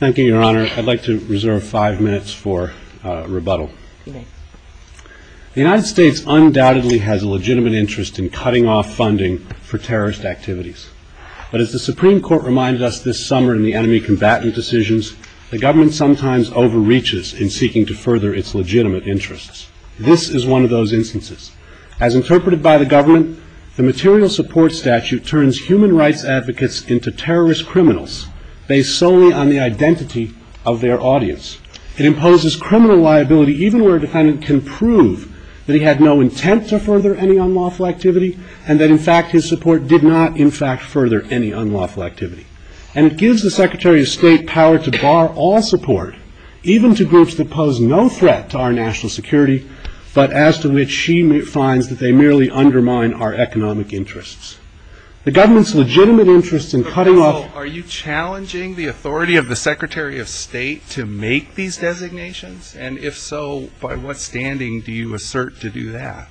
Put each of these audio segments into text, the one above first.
Thank you, Your Honor. I'd like to reserve five minutes for rebuttal. The United States undoubtedly has a legitimate interest in cutting off funding for terrorist activities. But as the Supreme Court reminded us this summer in the enemy combatant decisions, the government sometimes overreaches in seeking to further its legitimate interests. This is one of those instances. As interpreted by the government, the material support statute turns human rights advocates into terrorist criminals based solely on the identity of their audience. It imposes criminal liability even where a defendant can prove that he had no intent to further any unlawful activity and that, in fact, his support did not, in fact, further any unlawful activity. And it gives the Secretary of State power to bar all support, even to groups that pose no threat to our national security, but as to which she finds that they merely undermine our economic interests. The government's legitimate interest in cutting off... But, counsel, are you challenging the authority of the Secretary of State to make these designations? And if so, by what standing do you assert to do that?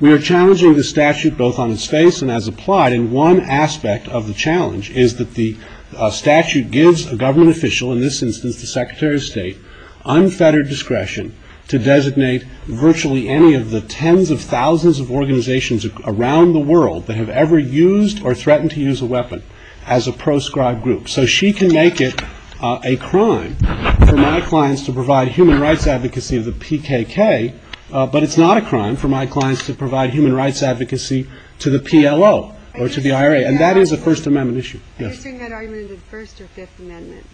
We are challenging the statute both on its face and as applied. And one aspect of the challenge is that the statute gives a government official, in this instance the Secretary of State, unfettered discretion to designate virtually any of the tens of thousands of organizations around the world that have ever used or threatened to use a weapon as a proscribed group. So she can make it a crime for my clients to provide human rights advocacy of the PKK, but it's not a crime for my clients to provide human rights advocacy to the PLO or to the IRA. And that is a First Amendment issue. Are you saying that argument is a First or Fifth Amendment?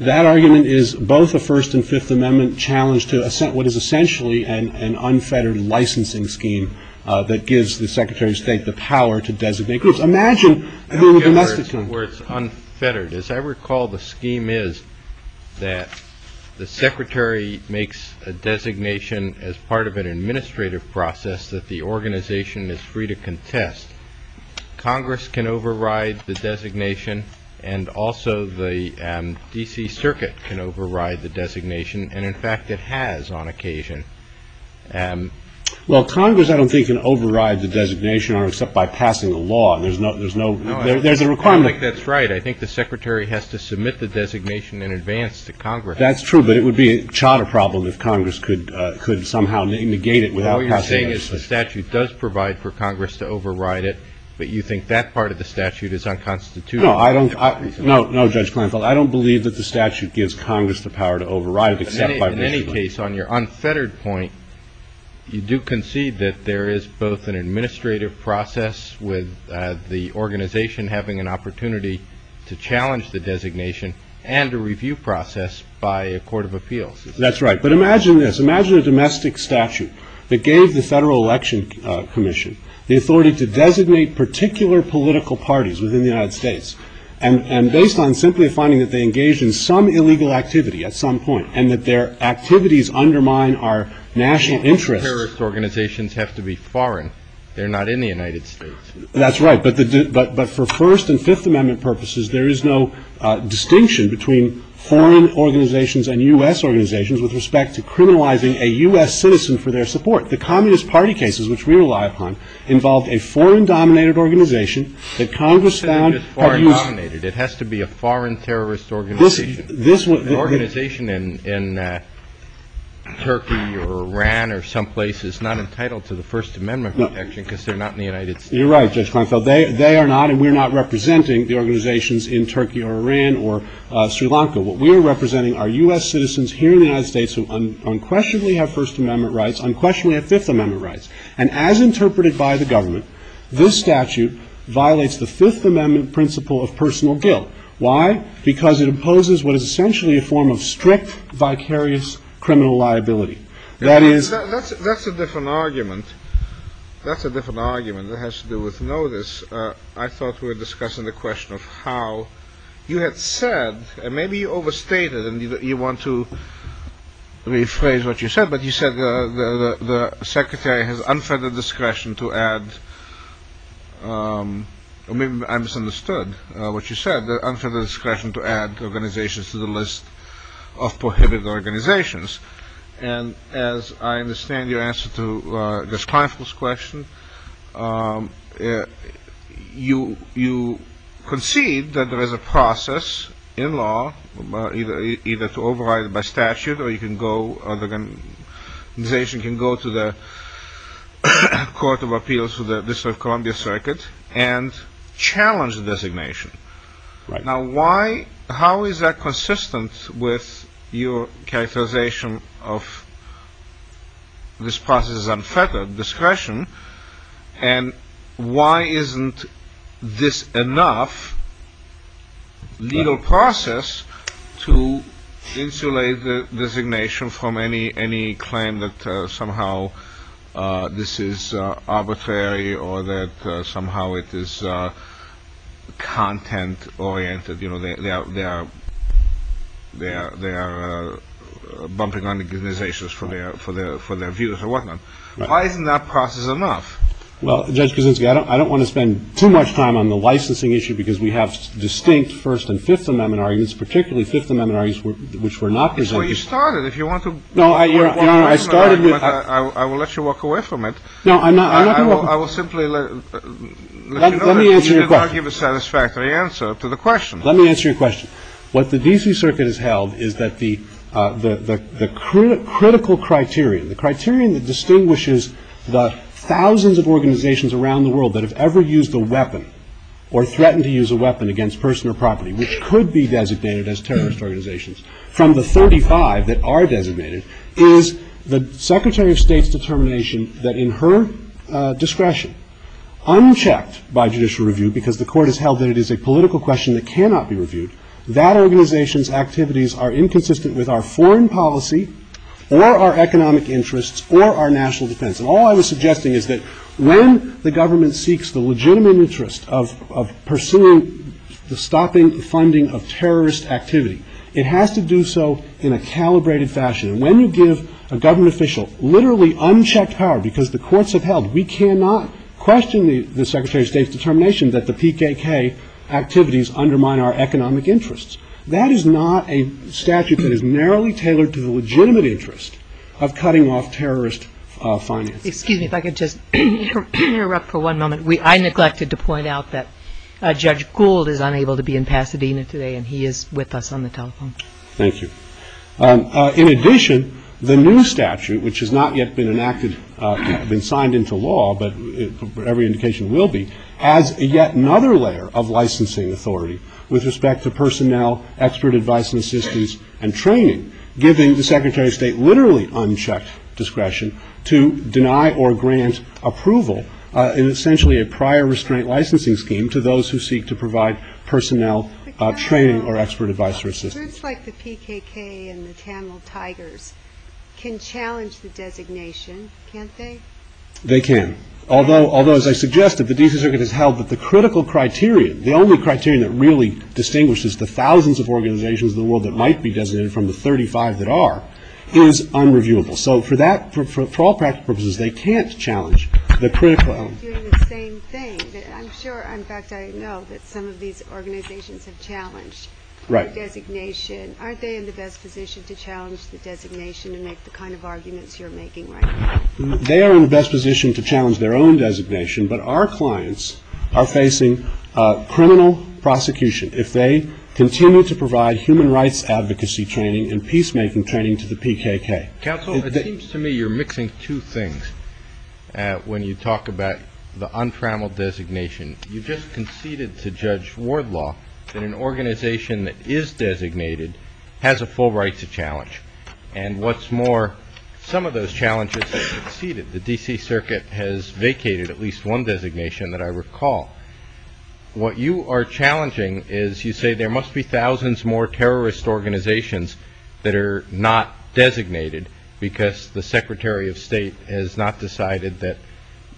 That argument is both a First and Fifth Amendment challenge to what is essentially an unfettered licensing scheme that gives the Secretary of State the power to designate groups? Imagine if there were domestic... Where it's unfettered. As I recall, the scheme is that the Secretary makes a designation as part of an administrative process that the organization is free to contest. Congress can override the designation, and also the D.C. Circuit can override the designation, and, in fact, it has on occasion. Well, Congress, I don't think, can override the designation except by passing a law. There's a requirement. I don't think that's right. I think the Secretary has to submit the designation in advance to Congress. That's true, but it would be a charter problem if Congress could somehow negate it without passing legislation. All you're saying is the statute does provide for Congress to override it, but you think that part of the statute is unconstitutional? No, Judge Kleinfeld. I don't believe that the statute gives Congress the power to override it except by... In any case, on your unfettered point, you do concede that there is both an administrative process with the organization having an opportunity to challenge the designation and a review process by a court of appeals. That's right, but imagine this. Imagine a domestic statute that gave the Federal Election Commission the authority to designate particular political parties within the United States and based on simply finding that they engaged in some illegal activity at some point and that their activities undermine our national interests. Terrorist organizations have to be foreign. They're not in the United States. That's right, but for First and Fifth Amendment purposes, there is no distinction between foreign organizations and U.S. organizations with respect to criminalizing a U.S. citizen for their support. The Communist Party cases, which we rely upon, involved a foreign-dominated organization that Congress found... You're saying it's foreign-dominated. It has to be a foreign terrorist organization. An organization in Turkey or Iran or someplace is not entitled to the First Amendment protection because they're not in the United States. You're right, Judge Kleinfeld. They are not and we're not representing the organizations in Turkey or Iran or Sri Lanka. What we are representing are U.S. citizens here in the United States who unquestionably have First Amendment rights, unquestionably have Fifth Amendment rights. And as interpreted by the government, this statute violates the Fifth Amendment principle of personal guilt. Why? Because it imposes what is essentially a form of strict, vicarious criminal liability. That is... That's a different argument. That's a different argument that has to do with notice. I thought we were discussing the question of how you had said, and maybe you overstated and you want to rephrase what you said, but you said the Secretary has unfettered discretion to add... Or maybe I misunderstood what you said, that unfettered discretion to add organizations to the list of prohibited organizations. And as I understand your answer to Judge Kleinfeld's question, you concede that there is a process in law either to override it by statute or the organization can go to the Court of Appeals for the District of Columbia Circuit and challenge the designation. Now, how is that consistent with your characterization of this process as unfettered discretion? And why isn't this enough legal process to insulate the designation from any claim that somehow this is arbitrary or that somehow it is content-oriented? You know, they are bumping on the designations for their views or whatnot. Why isn't that process enough? Well, Judge Kuczynski, I don't want to spend too much time on the licensing issue because we have distinct First and Fifth Amendment arguments, particularly Fifth Amendment arguments which were not presented... That's where you started. If you want to... No, Your Honor, I started with... I will let you walk away from it. No, I'm not going to... I will simply let you know that you did not give a satisfactory answer to the question. Let me answer your question. What the D.C. Circuit has held is that the critical criterion, the criterion that distinguishes the thousands of organizations around the world that have ever used a weapon or threatened to use a weapon against person or property, which could be designated as terrorist organizations, from the 35 that are designated, is the Secretary of State's determination that in her discretion, unchecked by judicial review, because the Court has held that it is a political question that cannot be reviewed, that organization's activities are inconsistent with our foreign policy or our economic interests or our national defense. And all I was suggesting is that when the government seeks the legitimate interest of pursuing the stopping the funding of terrorist activity, it has to do so in a calibrated fashion. And when you give a government official literally unchecked power, because the courts have held we cannot question the Secretary of State's determination that the PKK activities undermine our economic interests, that is not a statute that is narrowly tailored to the legitimate interest of cutting off terrorist financing. Excuse me if I could just interrupt for one moment. I neglected to point out that Judge Gould is unable to be in Pasadena today, and he is with us on the telephone. Thank you. In addition, the new statute, which has not yet been enacted, been signed into law, but every indication will be, has yet another layer of licensing authority with respect to personnel, expert advice and assistance, and training, giving the Secretary of State literally unchecked discretion to deny or grant approval in essentially a prior restraint licensing scheme to those who seek to provide personnel training or expert advice or assistance. So groups like the PKK and the Tamil Tigers can challenge the designation, can't they? They can. Although, as I suggested, the D.C. Circuit has held that the critical criteria, the only criteria that really distinguishes the thousands of organizations in the world that might be designated from the 35 that are, is unreviewable. So for all practical purposes, they can't challenge the critical element. They're doing the same thing. I'm sure, in fact, I know that some of these organizations have challenged the designation. Aren't they in the best position to challenge the designation and make the kind of arguments you're making right now? They are in the best position to challenge their own designation, but our clients are facing criminal prosecution if they continue to provide human rights advocacy training and peacemaking training to the PKK. Counsel, it seems to me you're mixing two things when you talk about the untrammeled designation. You just conceded to Judge Wardlaw that an organization that is designated has a full right to challenge. And what's more, some of those challenges have conceded. The D.C. Circuit has vacated at least one designation that I recall. What you are challenging is you say there must be thousands more terrorist organizations that are not designated because the Secretary of State has not decided that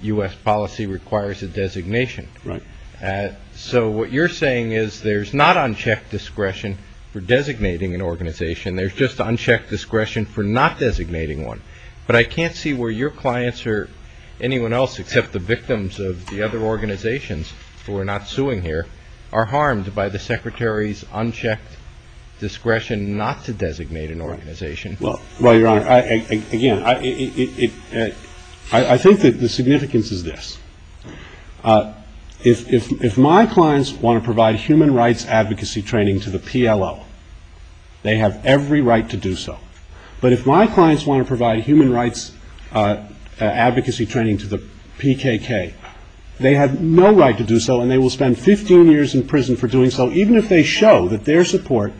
U.S. policy requires a designation. So what you're saying is there's not unchecked discretion for designating an organization. There's just unchecked discretion for not designating one. But I can't see where your clients or anyone else except the victims of the other organizations who are not suing here are harmed by the Secretary's unchecked discretion not to designate an organization. Well, Your Honor, again, I think that the significance is this. If my clients want to provide human rights advocacy training to the PLO, they have every right to do so. But if my clients want to provide human rights advocacy training to the PKK, they have no right to do so and they will spend 15 years in prison for doing so, even if they show that their support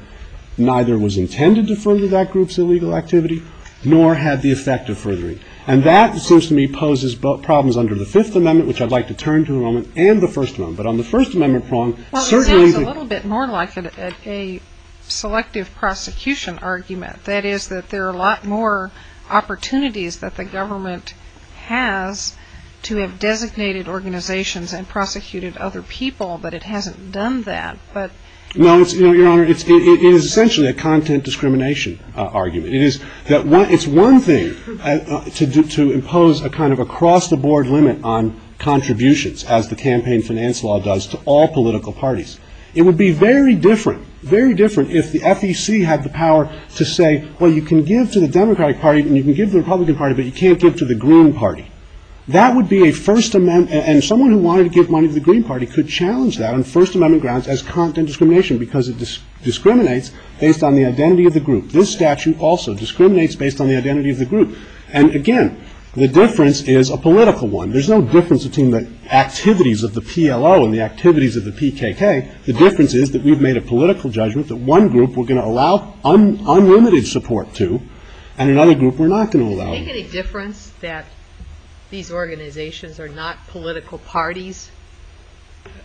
neither was intended to further that group's illegal activity nor had the effect of furthering. And that, it seems to me, poses problems under the Fifth Amendment, which I'd like to turn to in a moment, and the First Amendment. But on the First Amendment prong, certainly... Well, it sounds a little bit more like a selective prosecution argument. That is that there are a lot more opportunities that the government has to have designated organizations and prosecuted other people, but it hasn't done that. No, Your Honor, it is essentially a content discrimination argument. It's one thing to impose a kind of across-the-board limit on contributions, as the campaign finance law does, to all political parties. It would be very different if the FEC had the power to say, well, you can give to the Democratic Party and you can give to the Republican Party, but you can't give to the Green Party. That would be a First Amendment, and someone who wanted to give money to the Green Party could challenge that on First Amendment grounds as content discrimination because it discriminates based on the identity of the group. This statute also discriminates based on the identity of the group. And again, the difference is a political one. There's no difference between the activities of the PLO and the activities of the PKK. The difference is that we've made a political judgment that one group we're going to allow unlimited support to and another group we're not going to allow. Does it make any difference that these organizations are not political parties?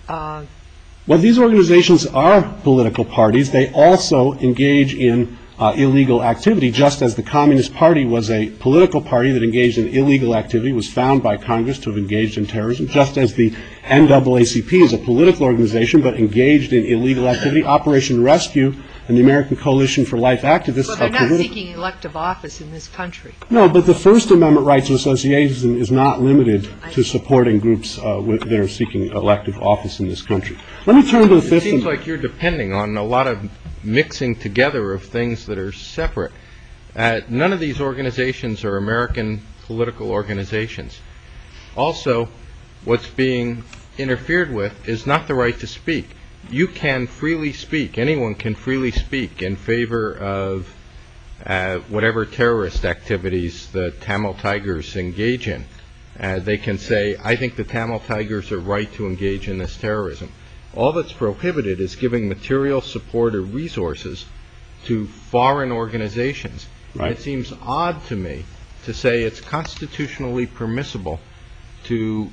Well, these organizations are political parties. They also engage in illegal activity, just as the Communist Party was a political party that engaged in illegal activity, was found by Congress to have engaged in terrorism, just as the NAACP is a political organization but engaged in illegal activity. Operation Rescue and the American Coalition for Life Act, this is what they're doing. They're seeking elective office in this country. No, but the First Amendment rights association is not limited to supporting groups that are seeking elective office in this country. Let me turn to the Fifth Amendment. It seems like you're depending on a lot of mixing together of things that are separate. None of these organizations are American political organizations. Also, what's being interfered with is not the right to speak. You can freely speak. Anyone can freely speak in favor of whatever terrorist activities the Tamil Tigers engage in. They can say, I think the Tamil Tigers are right to engage in this terrorism. All that's prohibited is giving material support or resources to foreign organizations. It seems odd to me to say it's constitutionally permissible to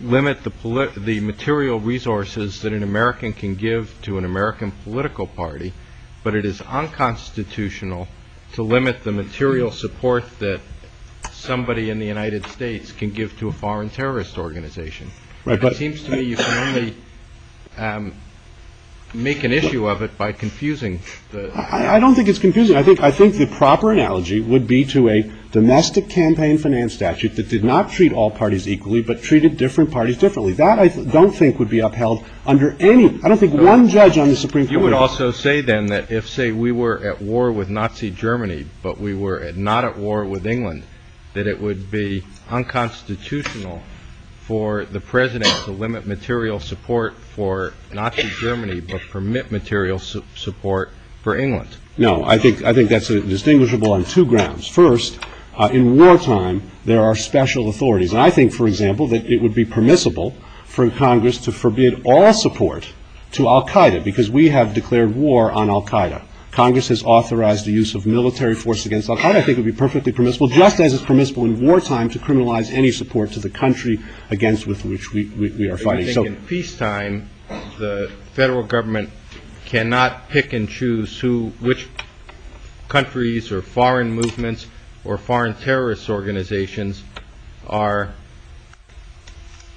limit the material resources that an American can give to an American political party, but it is unconstitutional to limit the material support that somebody in the United States can give to a foreign terrorist organization. It seems to me you can only make an issue of it by confusing. I don't think it's confusing. I think the proper analogy would be to a domestic campaign finance statute that did not treat all parties equally, but treated different parties differently. That I don't think would be upheld under any, I don't think one judge on the Supreme Court would. You would also say then that if, say, we were at war with Nazi Germany, but we were not at war with England, that it would be unconstitutional for the President to limit material support for Nazi Germany, but permit material support for England. No, I think that's distinguishable on two grounds. First, in wartime, there are special authorities. And I think, for example, that it would be permissible for Congress to forbid all support to Al-Qaeda, because we have declared war on Al-Qaeda. Congress has authorized the use of military force against Al-Qaeda. I think it would be perfectly permissible, just as it's permissible in wartime, to criminalize any support to the country against which we are fighting. I think in peacetime, the federal government cannot pick and choose which countries or foreign movements or foreign terrorist organizations are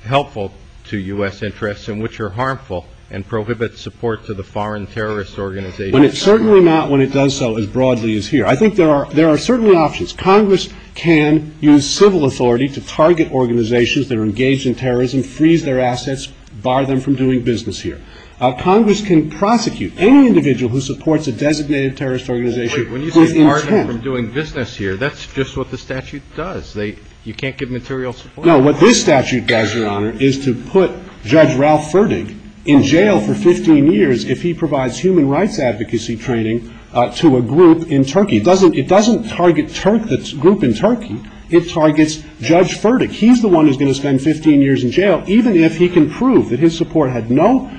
helpful to U.S. interests and which are harmful and prohibit support to the foreign terrorist organizations. Certainly not when it does so as broadly as here. I think there are certainly options. Congress can use civil authority to target organizations that are engaged in terrorism, freeze their assets, bar them from doing business here. Congress can prosecute any individual who supports a designated terrorist organization. When you say bar them from doing business here, that's just what the statute does. You can't give material support. No, what this statute does, Your Honor, is to put Judge Ralph Ferdig in jail for 15 years if he provides human rights advocacy training to a group in Turkey. It doesn't target the group in Turkey. It targets Judge Ferdig. He's the one who's going to spend 15 years in jail even if he can prove that his support had no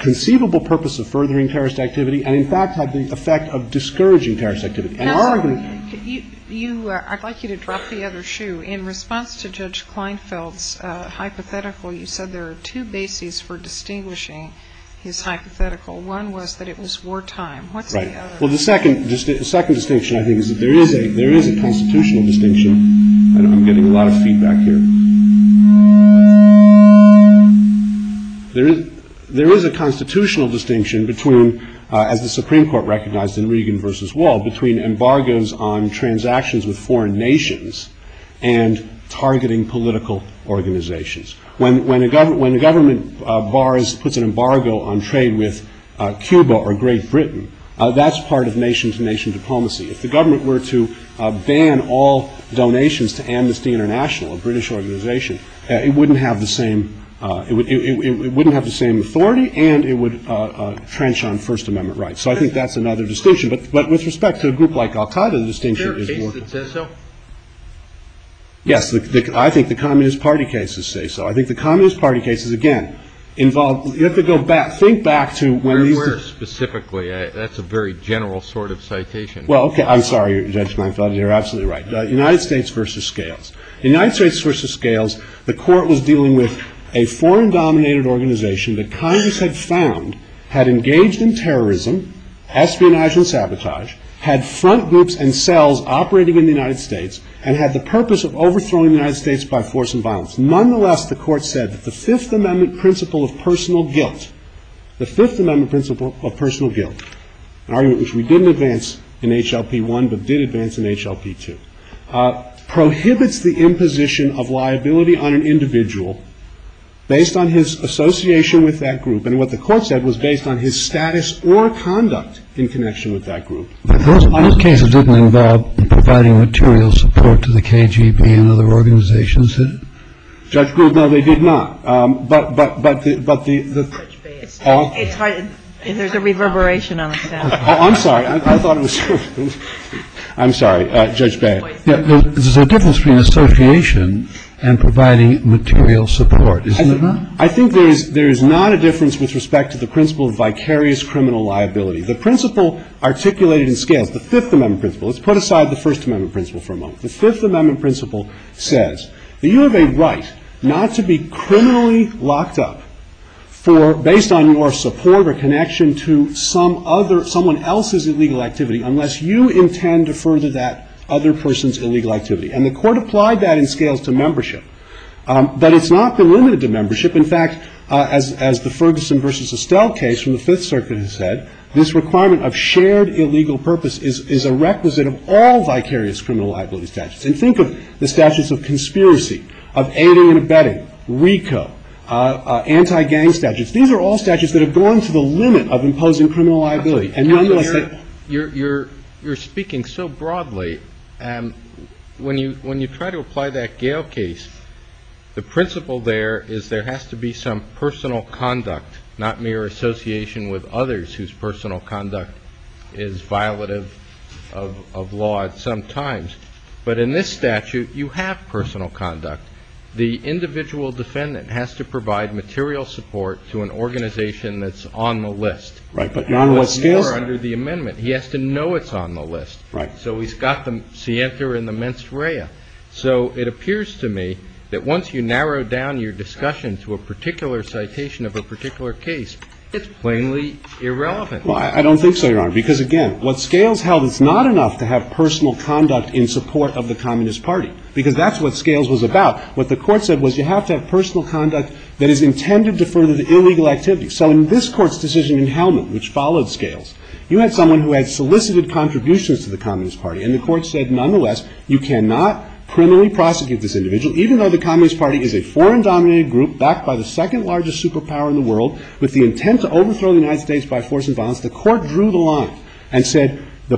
conceivable purpose of furthering terrorist activity and, in fact, had the effect of discouraging terrorist activity. Counselor, I'd like you to drop the other shoe. In response to Judge Kleinfeld's hypothetical, you said there are two bases for distinguishing his hypothetical. One was that it was wartime. What's the other? Well, the second distinction, I think, is that there is a constitutional distinction. I'm getting a lot of feedback here. There is a constitutional distinction between, as the Supreme Court recognized in Regan v. Wall, between embargoes on transactions with foreign nations and targeting political organizations. When a government puts an embargo on trade with Cuba or Great Britain, that's part of nation-to-nation diplomacy. If the government were to ban all donations to Amnesty International, a British organization, it wouldn't have the same authority, and it would trench on First Amendment rights. So I think that's another distinction. But with respect to a group like al-Qaeda, the distinction is more. Are there cases that say so? Yes. I think the Communist Party cases say so. I think the Communist Party cases, again, involve you have to go back, think back to when these. Where specifically? That's a very general sort of citation. Well, okay. I'm sorry. You're absolutely right. United States v. Scales. United States v. Scales, the Court was dealing with a foreign-dominated organization that Congress had found had engaged in terrorism, espionage and sabotage, had front groups and cells operating in the United States, and had the purpose of overthrowing the United States by force and violence. Nonetheless, the Court said that the Fifth Amendment principle of personal guilt, an argument which we didn't advance in H.L.P. 1, but did advance in H.L.P. 2, prohibits the imposition of liability on an individual based on his association with that group. And what the Court said was based on his status or conduct in connection with that group. Those cases didn't involve providing material support to the KGB and other organizations, did it? Judge Gould, no, they did not. But the. It's hard. There's a reverberation on the sound. Oh, I'm sorry. I thought it was. I'm sorry. Judge Beyer. There's a difference between association and providing material support, isn't there? I think there is not a difference with respect to the principle of vicarious criminal liability. The principle articulated in Scales, the Fifth Amendment principle. Let's put aside the First Amendment principle for a moment. The Fifth Amendment principle says that you have a right not to be criminally locked up for, based on your support or connection to some other, someone else's illegal activity unless you intend to further that other person's illegal activity. And the Court applied that in Scales to membership. But it's not limited to membership. In fact, as the Ferguson v. Estelle case from the Fifth Circuit has said, this requirement of shared illegal purpose is a requisite of all vicarious criminal liability statutes. And think of the statutes of conspiracy, of aiding and abetting, RICO, anti-gang statutes. These are all statutes that have gone to the limit of imposing criminal liability. And nonetheless, they're not. You're speaking so broadly. When you try to apply that Gale case, the principle there is there has to be some amount of personal conduct. It's not that personal conduct is violative of law at some times. But in this statute, you have personal conduct. The individual defendant has to provide material support to an organization that's on the list. Right. But nonetheless, under the amendment, he has to know it's on the list. Right. So he's got the scienter and the mens rea. So it appears to me that once you narrow down your discussion to a particular citation of a particular case, it's plainly irrelevant. Well, I don't think so, Your Honor. Because, again, what Scales held, it's not enough to have personal conduct in support of the Communist Party. Because that's what Scales was about. What the Court said was you have to have personal conduct that is intended to further the illegal activity. So in this Court's decision in Hellman, which followed Scales, you had someone who had solicited contributions to the Communist Party. And the Court said, nonetheless, you cannot criminally prosecute this individual even though the Communist Party is a foreign-dominated group backed by the second largest superpower in the world with the intent to overthrow the United States by force and violence. The Court drew the line and said the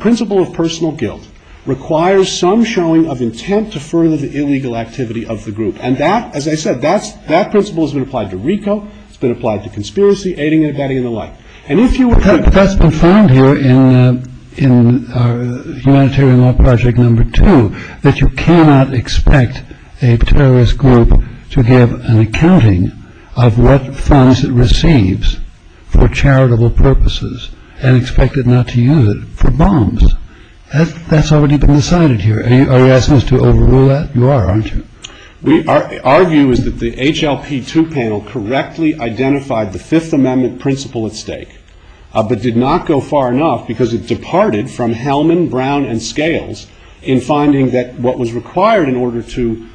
principle of personal guilt requires some showing of intent to further the illegal activity of the group. And that, as I said, that principle has been applied to RICO. It's been applied to conspiracy, aiding and abetting, and the like. And if you were to – But that's been found here in humanitarian law project number two, that you cannot expect a terrorist group to give an accounting of what funds it receives for charitable purposes and expect it not to use it for bombs. That's already been decided here. Are you asking us to overrule that? You are, aren't you? Our view is that the HLP2 panel correctly identified the Fifth Amendment principle at stake, but did not go far enough because it departed from Hellman, Brown, and Scales in finding that what was required in order to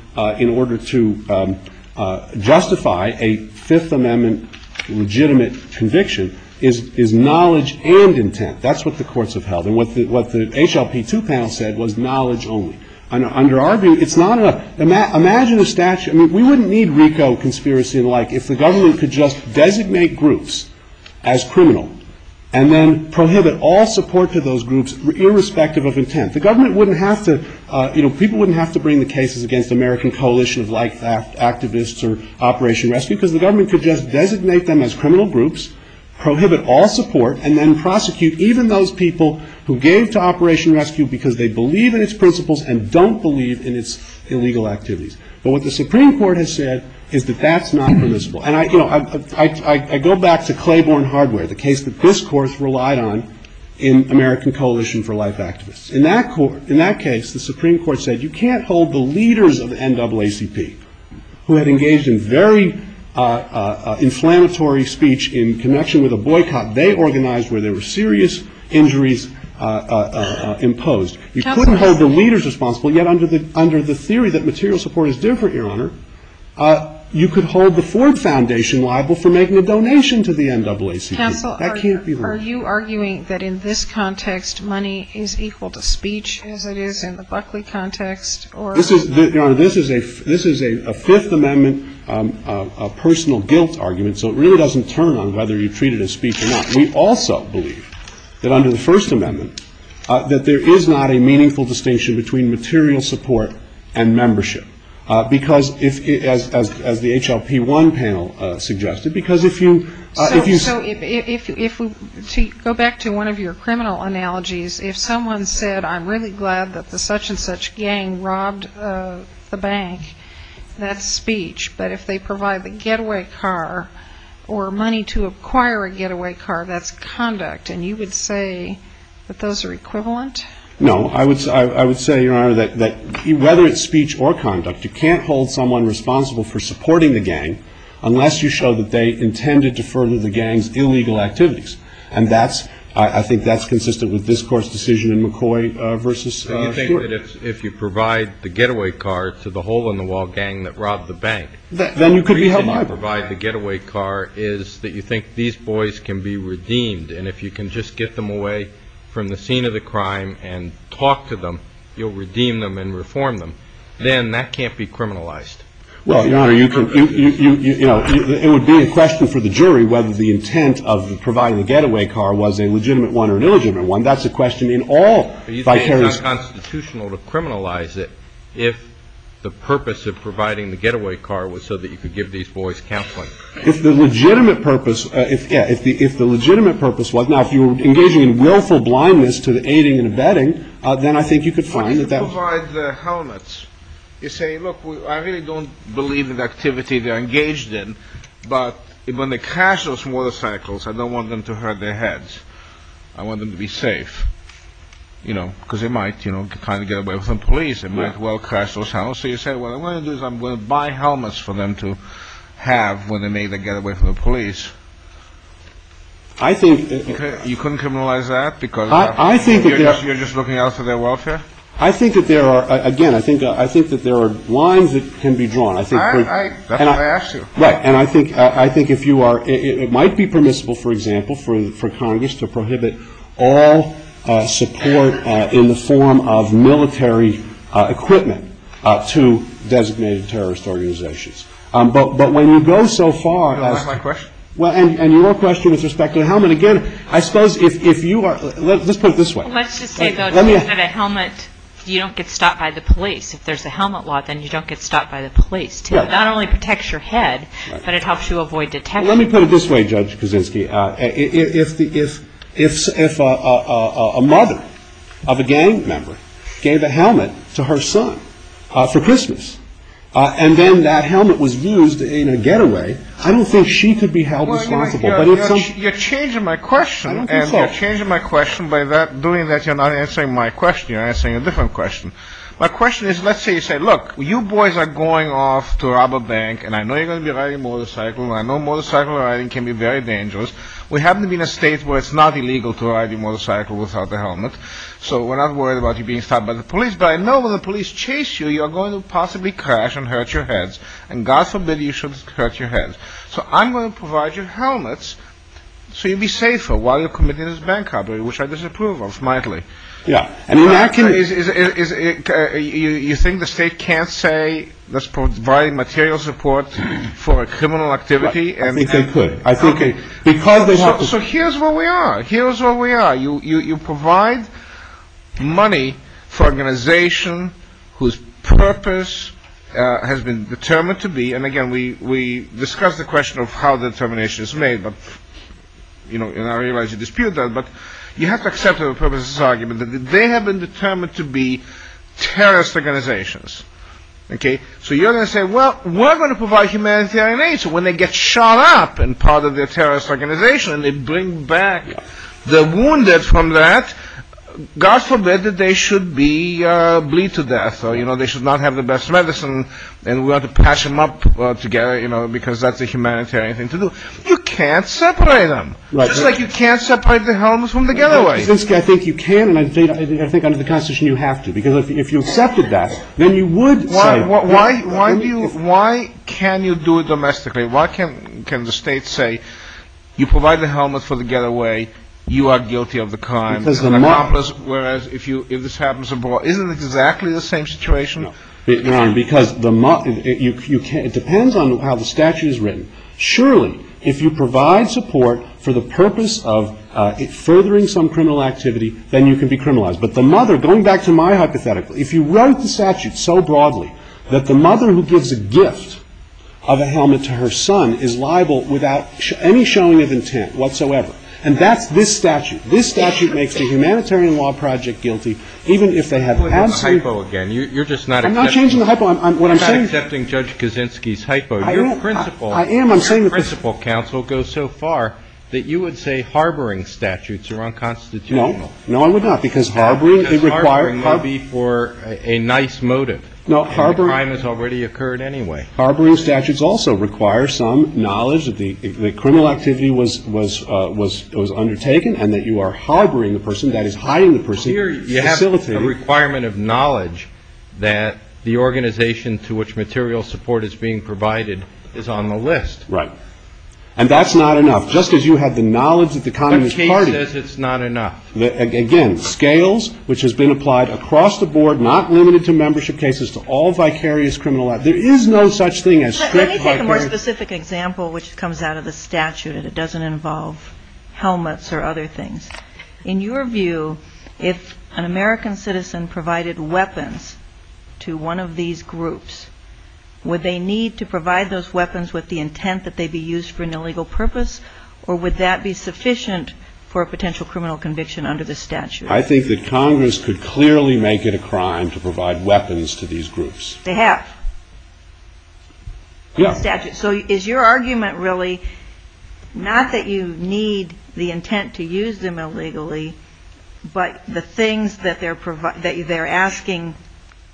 justify a Fifth Amendment violation is knowledge and intent. That's what the courts have held. And what the HLP2 panel said was knowledge only. Under our view, it's not enough. Imagine a statute – I mean, we wouldn't need RICO conspiracy and the like if the government could just designate groups as criminal and then prohibit all support to those groups irrespective of intent. The government wouldn't have to – you know, people wouldn't have to bring the cases against the American Coalition of Life Activists or Operation Rescue because the government could just designate them as criminal groups, prohibit all support, and then prosecute even those people who gave to Operation Rescue because they believe in its principles and don't believe in its illegal activities. But what the Supreme Court has said is that that's not permissible. And, you know, I go back to Claiborne Hardware, the case that this course relied on in American Coalition for Life Activists. In that case, the Supreme Court said you can't hold the leaders of the NAACP, who had engaged in very inflammatory speech in connection with a boycott they organized where there were serious injuries imposed. You couldn't hold the leaders responsible, yet under the theory that material support is different, Your Honor, you could hold the Ford Foundation liable for making a donation to the NAACP. That can't be right. Counsel, are you arguing that in this context money is equal to speech as it is in the Buckley context? Your Honor, this is a Fifth Amendment personal guilt argument, so it really doesn't turn on whether you treat it as speech or not. We also believe that under the First Amendment that there is not a meaningful distinction between material support and membership because, as the HLP1 panel suggested, because if you go back to one of your criminal analogies, if someone said, I'm really glad that the such-and-such gang robbed the bank, that's speech. But if they provide the getaway car or money to acquire a getaway car, that's conduct. And you would say that those are equivalent? No. I would say, Your Honor, that whether it's speech or conduct, you can't hold someone responsible for supporting the gang unless you show that they intended to further the gang's illegal activities. And that's, I think that's consistent with this Court's decision in McCoy versus Stewart. Do you think that if you provide the getaway car to the hole-in-the-wall gang that robbed the bank, the reason you provide the getaway car is that you think these boys can be redeemed? And if you can just get them away from the scene of the crime and talk to them, you'll redeem them and reform them. Then that can't be criminalized. Well, Your Honor, you can, you know, it would be a question for the jury whether the intent of providing the getaway car was a legitimate one or an illegitimate one. That's a question in all vicarious – Are you saying it's unconstitutional to criminalize it if the purpose of providing the getaway car was so that you could give these boys counseling? If the legitimate purpose – yeah, if the legitimate purpose was – now, if you were engaging in willful blindness to the aiding and abetting, then I think you could find that that was – If you provide the helmets, you say, look, I really don't believe in the activity they're engaged in, but when they crash those motorcycles, I don't want them to hurt their heads. I want them to be safe, you know, because they might, you know, kind of get away from the police. They might as well crash those helmets. So you say what I'm going to do is I'm going to buy helmets for them to have when they make the getaway from the police. I think – You couldn't criminalize that because you're just looking out for their welfare? I think that there are – again, I think that there are lines that can be drawn. That's what I asked you. Right. And I think if you are – it might be permissible, for example, for Congress to prohibit all support in the form of military equipment to designated terrorist organizations. But when you go so far as – Is that my question? Well, and your question with respect to the helmet, again, I suppose if you are – let's put it this way. Let's just say, though, that a helmet – you don't get stopped by the police. If there's a helmet law, then you don't get stopped by the police. It not only protects your head, but it helps you avoid detectives. Let me put it this way, Judge Kaczynski. If a mother of a gang member gave a helmet to her son for Christmas, and then that helmet was used in a getaway, I don't think she could be held responsible. You're changing my question. I don't think so. And you're changing my question by doing that. You're not answering my question. You're answering a different question. My question is, let's say you say, look, you boys are going off to rob a bank, and I know you're going to be riding a motorcycle, and I know motorcycle riding can be very dangerous. We happen to be in a state where it's not illegal to ride a motorcycle without a helmet, so we're not worried about you being stopped by the police. But I know when the police chase you, you are going to possibly crash and hurt your heads, and God forbid you should hurt your head. So I'm going to provide you helmets so you'll be safer while you're committing this bank robbery, which I disapprove of mightily. Yeah. You think the state can't say let's provide material support for a criminal activity? I think they could. So here's where we are. Here's where we are. You provide money for an organization whose purpose has been determined to be, and again, we discussed the question of how the determination is made, and I realize you dispute that, but you have to accept the purpose of this argument, that they have been determined to be terrorist organizations. Okay? So you're going to say, well, we're going to provide humanitarian aid, so when they get shot up and part of their terrorist organization, and they bring back the wounded from that, God forbid that they should bleed to death, or they should not have the best medicine, and we ought to patch them up together, because that's a humanitarian thing to do. You can't separate them. It's just like you can't separate the helmets from the getaway. I think you can, and I think under the Constitution you have to, because if you accepted that, then you would say that. Why can you do it domestically? Why can the state say you provide the helmet for the getaway, you are guilty of the crime, whereas if this happens abroad, isn't it exactly the same situation? No, because it depends on how the statute is written. Surely, if you provide support for the purpose of furthering some criminal activity, then you can be criminalized. But the mother, going back to my hypothetical, if you wrote the statute so broadly, that the mother who gives a gift of a helmet to her son is liable without any showing of intent whatsoever, and that's this statute. This statute makes the Humanitarian Law Project guilty, even if they have absolutely I'm not changing the hypo. I'm not accepting Judge Kaczynski's hypo. Your principal counsel goes so far that you would say harboring statutes are unconstitutional. No. No, I would not, because harboring requires Harboring would be for a nice motive. No, harboring And the crime has already occurred anyway. Harboring statutes also require some knowledge that the criminal activity was undertaken and that you are harboring the person, that is, hiding the person, facilitating knowledge that the organization to which material support is being provided is on the list. Right. And that's not enough. Just as you had the knowledge that the Communist Party The case says it's not enough. Again, scales, which has been applied across the board, not limited to membership cases, to all vicarious criminal acts. There is no such thing as strict Let me take a more specific example, which comes out of the statute, and it doesn't involve helmets or other things. In your view, if an American citizen provided weapons to one of these groups, would they need to provide those weapons with the intent that they be used for an illegal purpose, or would that be sufficient for a potential criminal conviction under the statute? I think that Congress could clearly make it a crime to provide weapons to these groups. They have. Yeah. So is your argument really not that you need the intent to use them illegally, but the things that they're asking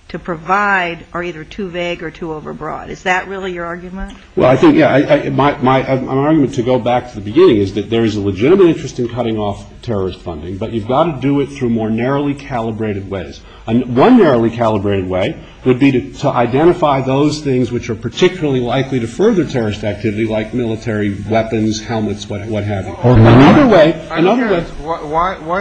to provide are either too vague or too overbroad? Is that really your argument? Well, I think, yeah. My argument, to go back to the beginning, is that there is a legitimate interest in cutting off terrorist funding, but you've got to do it through more narrowly calibrated ways. One narrowly calibrated way would be to identify those things which are particularly likely to further terrorist activity, like military weapons, helmets, what have you. Why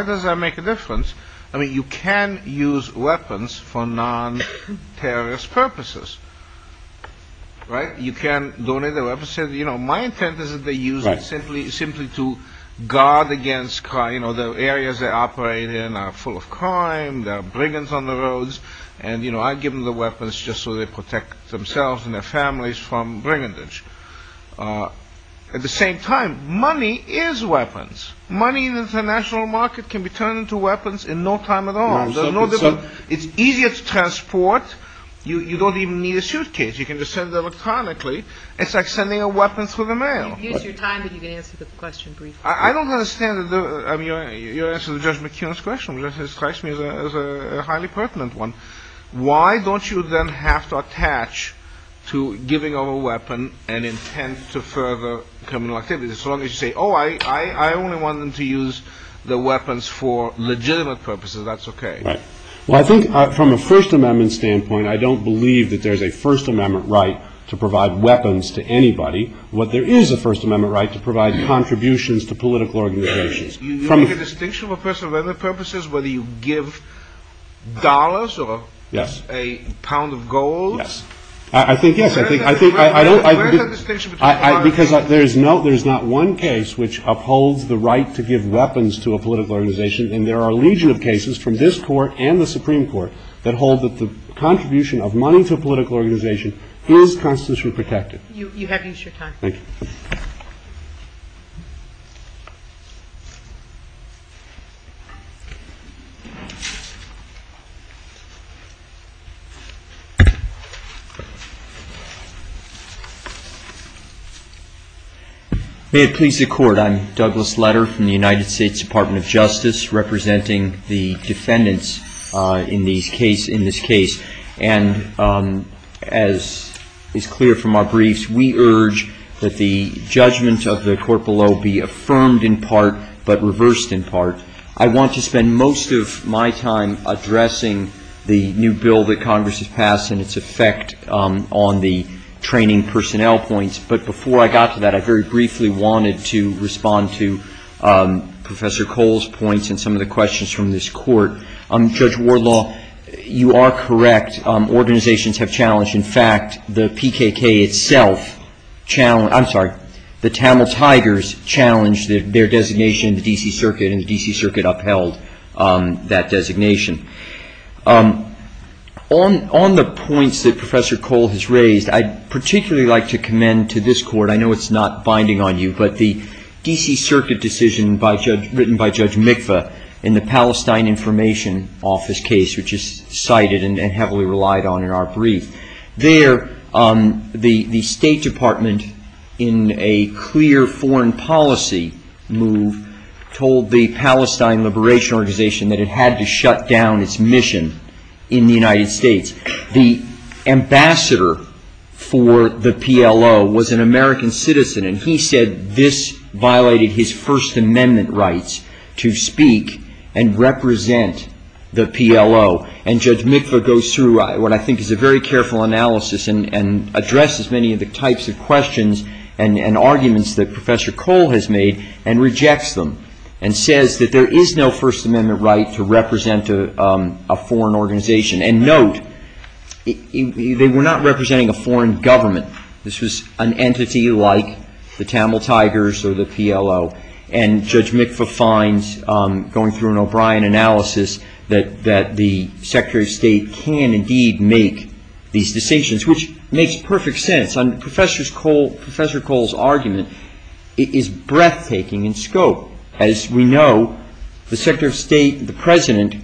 does that make a difference? I mean, you can use weapons for non-terrorist purposes. Right? You can donate the weapons. You know, my intent is that they use it simply to guard against crime. You know, the areas they operate in are full of crime. There are brigands on the roads. And, you know, I give them the weapons just so they protect themselves and their families from brigandage. At the same time, money is weapons. Money in the international market can be turned into weapons in no time at all. There's no difference. It's easier to transport. You don't even need a suitcase. You can just send it electronically. It's like sending a weapon through the mail. Use your time, but you can answer the question briefly. I don't understand. I mean, you answered Judge McKeon's question, which describes me as a highly pertinent one. Why don't you then have to attach to giving of a weapon an intent to further criminal activity? As long as you say, oh, I only want them to use the weapons for legitimate purposes, that's okay. Right. Well, I think from a First Amendment standpoint, I don't believe that there's a First Amendment right to provide weapons to anybody. There is a First Amendment right to provide contributions to political organizations. Do you make a distinction for other purposes, whether you give dollars or a pound of gold? Yes. I think yes. Where is that distinction between the two? Because there is not one case which upholds the right to give weapons to a political organization, and there are a legion of cases from this Court and the Supreme Court that hold that the contribution of money to a political organization is constitutionally protected. You have used your time. Thank you. May it please the Court, I'm Douglas Letter from the United States Department of Justice, representing the defendants in this case. And as is clear from our briefs, we urge that the judgment of the court below be affirmed in part, but reversed in part. I want to spend most of my time addressing the new bill that Congress has passed and its effect on the training personnel points. But before I got to that, I very briefly wanted to respond to Professor Cole's points and some of the questions from this Court. Judge Wardlaw, you are correct. Organizations have challenged. In fact, the PKK itself, I'm sorry, the Tamil Tigers challenged their designation in the D.C. Circuit, and the D.C. Circuit upheld that designation. On the points that Professor Cole has raised, I'd particularly like to commend to this Court, I know it's not binding on you, but the D.C. Circuit decision written by Judge Mikva in the Palestine Information Office case, which is cited and heavily relied on in our brief. There, the State Department, in a clear foreign policy move, told the Palestine Liberation Organization that it had to shut down its mission in the United States. The ambassador for the PLO was an American citizen, and he said this violated his First Amendment rights to speak and represent the PLO. And Judge Mikva goes through what I think is a very careful analysis and addresses many of the types of questions and arguments that Professor Cole has made and rejects them and says that there is no First Amendment right to represent a foreign organization. And note, they were not representing a foreign government. This was an entity like the Tamil Tigers or the PLO. And Judge Mikva finds, going through an O'Brien analysis, that the Secretary of State can indeed make these decisions, which makes perfect sense. Professor Cole's argument is breathtaking in scope. As we know, the Secretary of State, the President,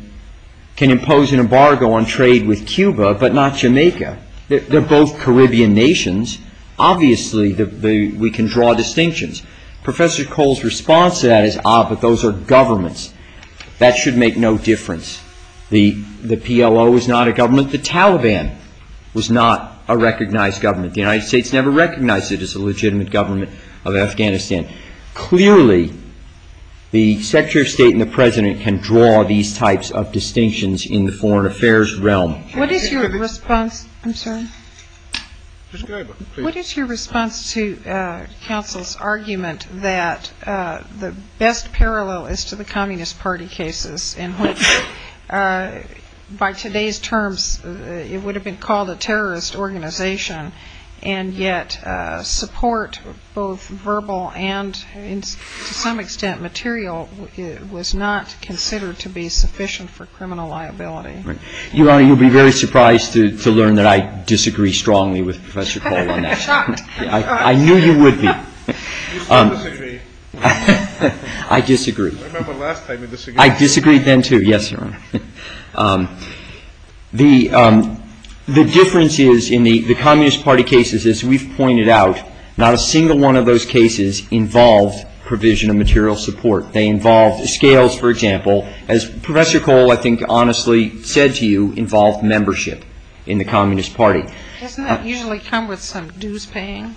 can impose an embargo on trade with Cuba, but not Jamaica. They're both Caribbean nations. Obviously, we can draw distinctions. Professor Cole's response to that is, ah, but those are governments. That should make no difference. The PLO was not a government. The Taliban was not a recognized government. The United States never recognized it as a legitimate government of Afghanistan. Clearly, the Secretary of State and the President can draw these types of distinctions in the foreign affairs realm. What is your response? I'm sorry. What is your response to counsel's argument that the best parallel is to the Communist Party cases in which, by today's terms, it would have been called a terrorist organization, and yet support, both verbal and to some extent material, was not considered to be sufficient for criminal liability? Your Honor, you'll be very surprised to learn that I disagree strongly with Professor Cole on that. I knew you would be. You still disagree. I disagree. I remember last time you disagreed. I disagreed then, too. Yes, Your Honor. The difference is, in the Communist Party cases, as we've pointed out, not a single one of those cases involved provision of material support. Scales, for example, as Professor Cole, I think, honestly said to you, involved membership in the Communist Party. Doesn't that usually come with some dues paying?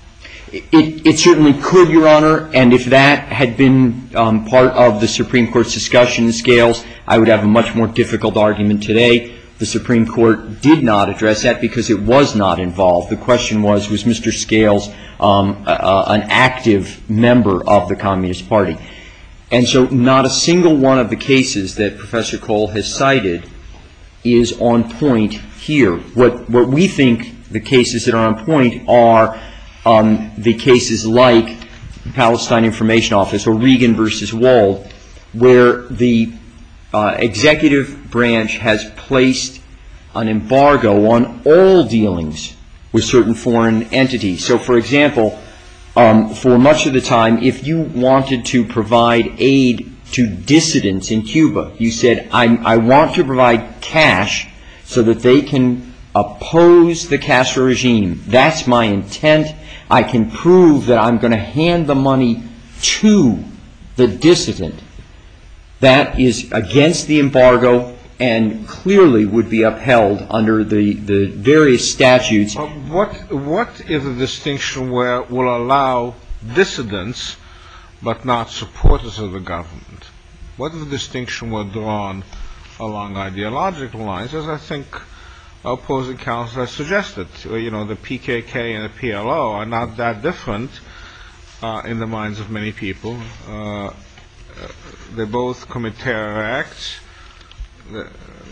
It certainly could, Your Honor. And if that had been part of the Supreme Court's discussion, Scales, I would have a much more difficult argument today. The Supreme Court did not address that because it was not involved. The question was, was Mr. Scales an active member of the Communist Party? And so not a single one of the cases that Professor Cole has cited is on point here. What we think the cases that are on point are the cases like the Palestine Information Office or Regan v. Wald, where the executive branch has placed an embargo on all dealings with certain foreign entities. So, for example, for much of the time, if you wanted to provide aid to dissidents in Cuba, you said, I want to provide cash so that they can oppose the Castro regime. That's my intent. I can prove that I'm going to hand the money to the dissident. That is against the embargo and clearly would be upheld under the various statutes. What is the distinction where we'll allow dissidents but not supporters of the government? What is the distinction where drawn along ideological lines, as I think opposing counsel has suggested? You know, the PKK and the PLO are not that different in the minds of many people. They both commit terror acts.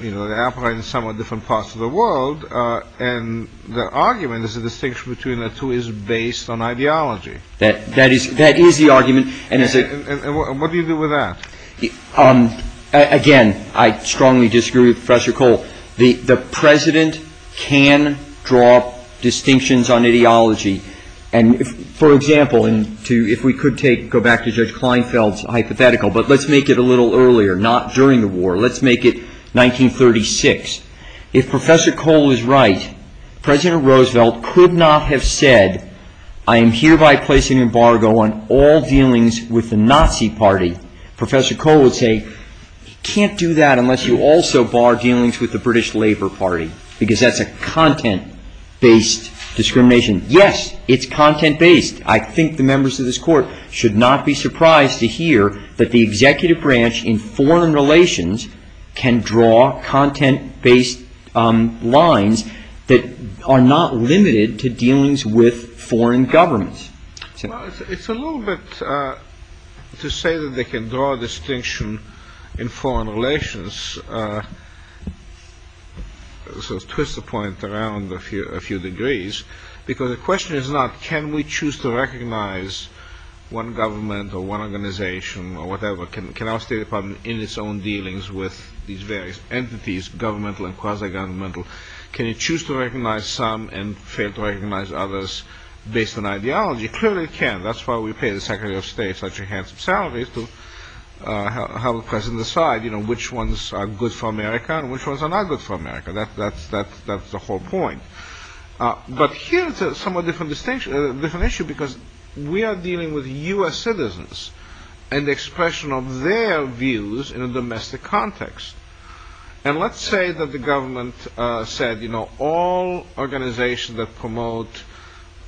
You know, they operate in somewhat different parts of the world. And the argument is the distinction between the two is based on ideology. That is the argument. And what do you do with that? Again, I strongly disagree with Professor Cole. The president can draw distinctions on ideology. And, for example, if we could go back to Judge Kleinfeld's hypothetical, but let's make it a little earlier, not during the war. Let's make it 1936. If Professor Cole is right, President Roosevelt could not have said, I am hereby placing an embargo on all dealings with the Nazi party. Professor Cole would say, you can't do that unless you also bar dealings with the British Labour Party. Because that's a content-based discrimination. Yes, it's content-based. I think the members of this court should not be surprised to hear that the executive branch in foreign relations can draw content-based lines that are not limited to dealings with foreign governments. It's a little bit to say that they can draw a distinction in foreign relations. Let's twist the point around a few degrees. Because the question is not, can we choose to recognize one government or one organization or whatever? Can our State Department, in its own dealings with these various entities, governmental and quasi-governmental, can it choose to recognize some and fail to recognize others based on ideology? Clearly it can. That's why we pay the Secretary of State such a handsome salary to have the President decide which ones are good for America and which ones are not good for America. That's the whole point. But here it's a somewhat different issue. Because we are dealing with U.S. citizens and the expression of their views in a domestic context. And let's say that the government said, you know, all organizations that promote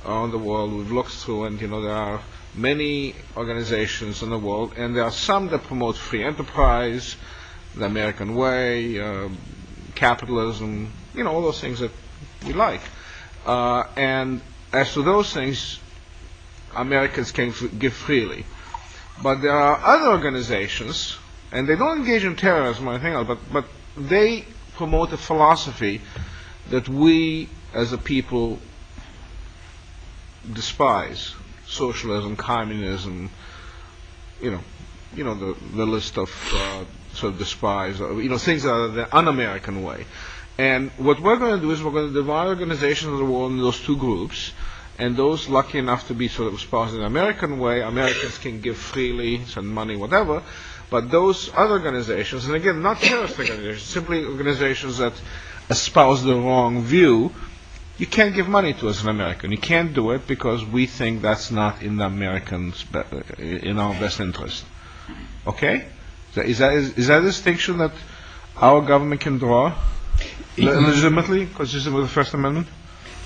are in the world we've looked through, and there are many organizations in the world, and there are some that promote free enterprise, the American way, capitalism, you know, all those things that we like. And as to those things, Americans can give freely. But there are other organizations, and they don't engage in terrorism, I think, but they promote a philosophy that we as a people despise socialism, communism, you know, the list of despise, you know, things that are the un-American way. And what we're going to do is we're going to divide organizations of the world into those two groups, and those lucky enough to be sort of espoused in the American way, Americans can give freely, send money, whatever. But those other organizations, and again, not terrorist organizations, simply organizations that espouse the wrong view, you can't give money to us as an American. You can't do it because we think that's not in the Americans, in our best interest. Okay? Is that a distinction that our government can draw legitimately, consistent with the First Amendment?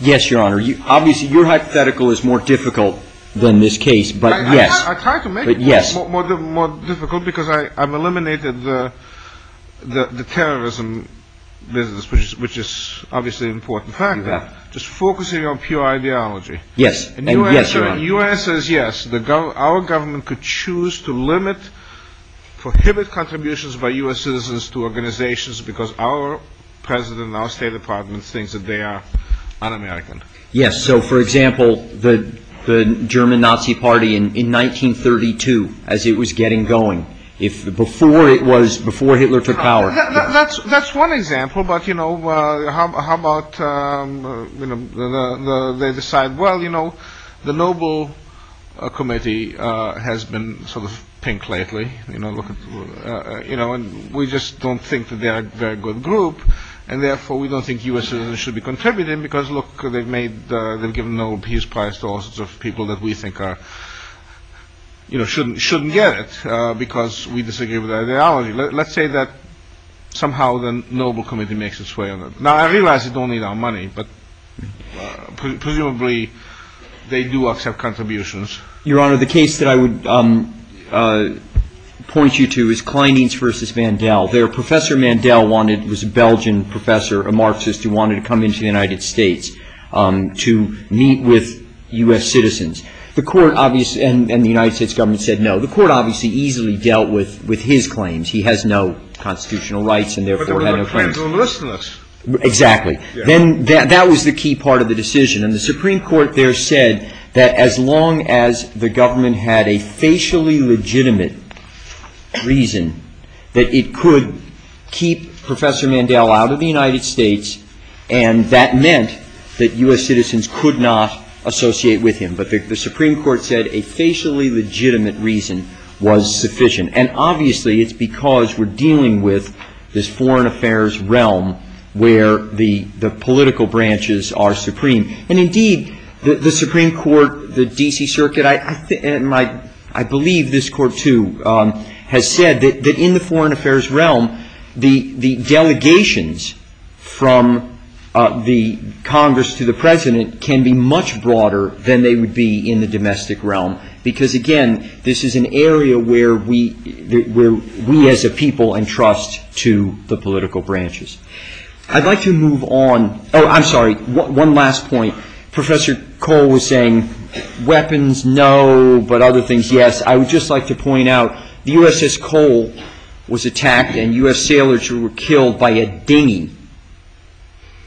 Yes, Your Honor. Obviously, your hypothetical is more difficult than this case, but yes. I tried to make it more difficult because I've eliminated the terrorism business, which is obviously an important factor. Just focusing on pure ideology. Yes. And your answer is yes. Our government could choose to limit, prohibit contributions by U.S. citizens to organizations because our president and our State Department thinks that they are un-American. Yes. So, for example, the German Nazi Party in 1932, as it was getting going, before Hitler took power. That's one example, but how about they decide, well, you know, the Nobel Committee has been sort of pink lately. We just don't think that they are a very good group, and therefore we don't think U.S. citizens should be contributing because, look, they've given the Nobel Peace Prize to all sorts of people that we think shouldn't get it because we disagree with their ideology. Let's say that somehow the Nobel Committee makes its way on it. Now, I realize they don't need our money, but presumably they do accept contributions. Your Honor, the case that I would point you to is Kleinings v. Mandel. There, Professor Mandel was a Belgian professor, a Marxist, who wanted to come into the United States to meet with U.S. citizens. The court obviously, and the United States government said no. The court obviously easily dealt with his claims. He has no constitutional rights and, therefore, had no claims. But there were no claims on listeners. Exactly. Then that was the key part of the decision. And the Supreme Court there said that as long as the government had a facially legitimate reason, that it could keep Professor Mandel out of the United States, and that meant that U.S. citizens could not associate with him. But the Supreme Court said a facially legitimate reason was sufficient. And, obviously, it's because we're dealing with this foreign affairs realm where the political branches are supreme. And, indeed, the Supreme Court, the D.C. Circuit, and I believe this Court, too, has said that in the foreign affairs realm the delegations from the Congress to the President can be much broader than they would be in the domestic realm. Because, again, this is an area where we as a people entrust to the political branches. I'd like to move on. Oh, I'm sorry. One last point. Professor Cole was saying weapons, no, but other things, yes. I would just like to point out the USS Cole was attacked, and U.S. sailors were killed by a dinghy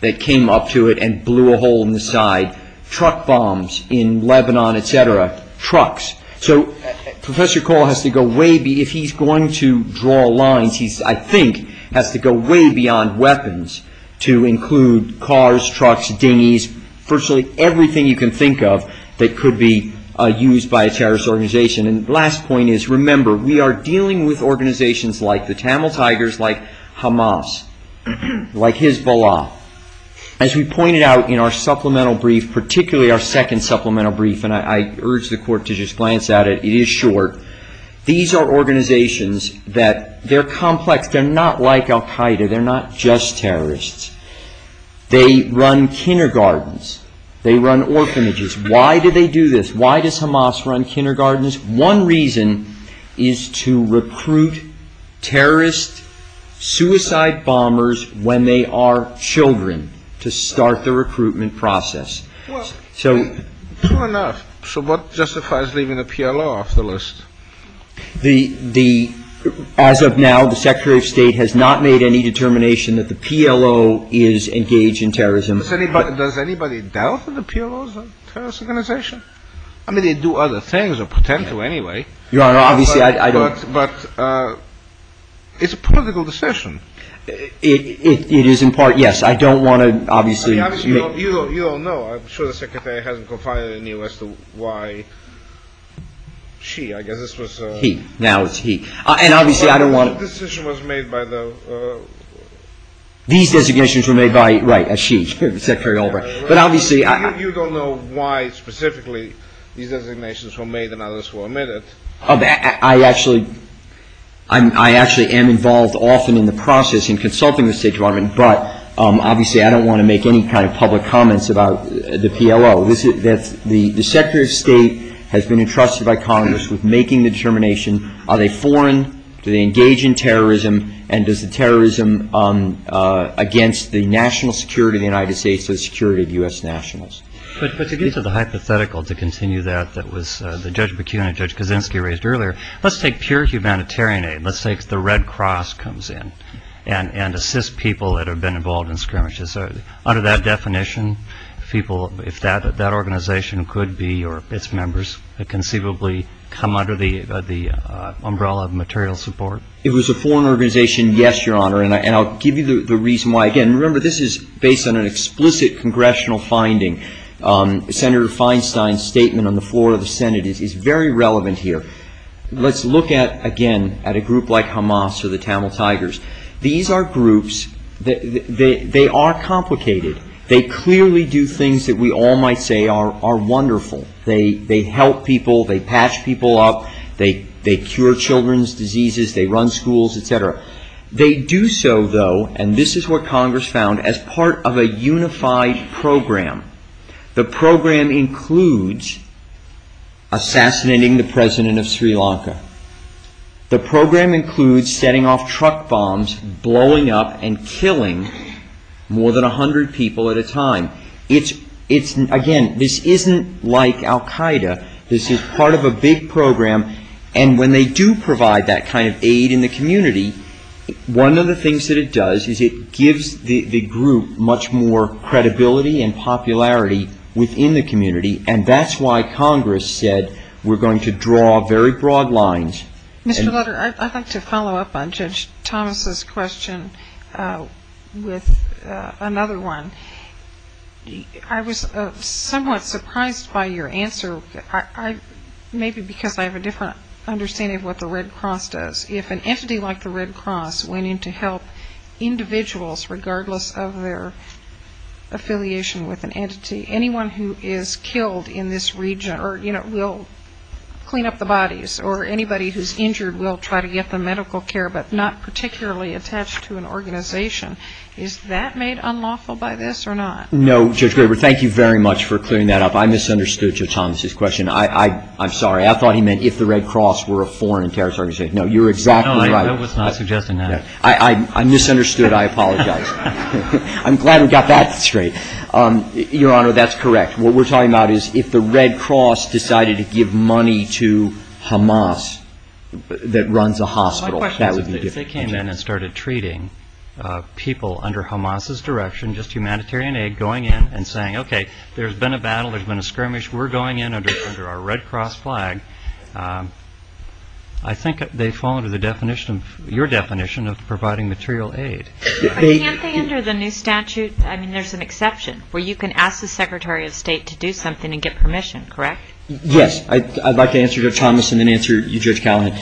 that came up to it and blew a hole in the side. Truck bombs in Lebanon, et cetera. Trucks. So Professor Cole has to go way, if he's going to draw lines, he, I think, has to go way beyond weapons to include cars, trucks, dinghies, virtually everything you can think of that could be used by a terrorist organization. And the last point is, remember, we are dealing with organizations like the Tamil Tigers, like Hamas, like Hezbollah. As we pointed out in our supplemental brief, particularly our second supplemental brief, and I urge the court to just glance at it. It is short. These are organizations that they're complex. They're not like al Qaeda. They're not just terrorists. They run kindergartens. They run orphanages. Why do they do this? Why does Hamas run kindergartens? One reason is to recruit terrorist suicide bombers when they are children to start the recruitment process. So what justifies leaving the PLO off the list? As of now, the Secretary of State has not made any determination that the PLO is engaged in terrorism. Does anybody doubt that the PLO is a terrorist organization? I mean, they do other things or pretend to anyway. Your Honor, obviously I don't. But it's a political decision. It is in part, yes. I don't want to obviously. You don't know. I'm sure the Secretary hasn't confided in you as to why she, I guess this was. He. Now it's he. And obviously I don't want to. But the decision was made by the. These designations were made by, right, Ashish, Secretary Albright. But obviously. You don't know why specifically these designations were made and others were omitted. I actually am involved often in the process in consulting the State Department. But obviously I don't want to make any kind of public comments about the PLO. The Secretary of State has been entrusted by Congress with making the determination. Are they foreign? Do they engage in terrorism? And does the terrorism against the national security of the United States, the security of U.S. nationalists. But to get to the hypothetical, to continue that, that was the Judge Bakunin, Judge Kaczynski raised earlier. Let's take pure humanitarian aid. Let's take the Red Cross comes in and assist people that have been involved in skirmishes. Under that definition, people, if that organization could be or its members, conceivably come under the umbrella of material support. If it was a foreign organization, yes, Your Honor. And I'll give you the reason why. Again, remember this is based on an explicit congressional finding. Senator Feinstein's statement on the floor of the Senate is very relevant here. Let's look at, again, at a group like Hamas or the Tamil Tigers. These are groups, they are complicated. They clearly do things that we all might say are wonderful. They help people. They patch people up. They cure children's diseases. They run schools, et cetera. They do so, though, and this is what Congress found, as part of a unified program. The program includes assassinating the president of Sri Lanka. The program includes setting off truck bombs, blowing up and killing more than 100 people at a time. Again, this isn't like Al-Qaeda. This is part of a big program. And when they do provide that kind of aid in the community, one of the things that it does is it gives the group much more credibility and popularity within the community, and that's why Congress said we're going to draw very broad lines. Mr. Lutter, I'd like to follow up on Judge Thomas's question with another one. I was somewhat surprised by your answer, maybe because I have a different understanding of what the Red Cross does. If an entity like the Red Cross went in to help individuals, regardless of their affiliation with an entity, anyone who is killed in this region or, you know, will clean up the bodies, or anybody who's injured will try to get them medical care but not particularly attached to an organization, is that made unlawful by this or not? No, Judge Graber, thank you very much for clearing that up. I misunderstood Judge Thomas's question. I'm sorry. I thought he meant if the Red Cross were a foreign terrorist organization. No, you're exactly right. No, I was not suggesting that. I misunderstood. I apologize. I'm glad we got that straight. Your Honor, that's correct. What we're talking about is if the Red Cross decided to give money to Hamas that runs a hospital, that would be different. If they came in and started treating people under Hamas's direction, just humanitarian aid, going in and saying, okay, there's been a battle, there's been a skirmish, we're going in under our Red Cross flag, I think they fall under the definition, your definition of providing material aid. Can't they enter the new statute? I mean, there's an exception where you can ask the Secretary of State to do something and get permission, correct? Yes. I'd like to answer Judge Thomas and then answer you, Judge Callahan.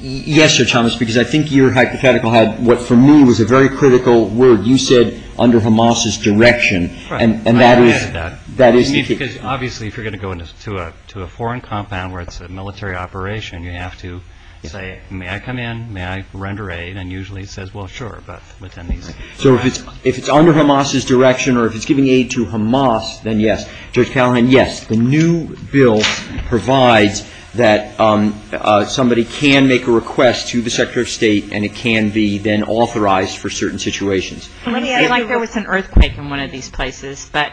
Yes, Judge Thomas, because I think your hypothetical had what for me was a very critical word. You said under Hamas's direction. Right. And that is the case. Obviously, if you're going to go to a foreign compound where it's a military operation, you have to say, may I come in? May I render aid? And usually it says, well, sure. So if it's under Hamas's direction or if it's giving aid to Hamas, then yes. Judge Callahan, yes. The new bill provides that somebody can make a request to the Secretary of State and it can be then authorized for certain situations. Let me ask you. It looked like there was an earthquake in one of these places, but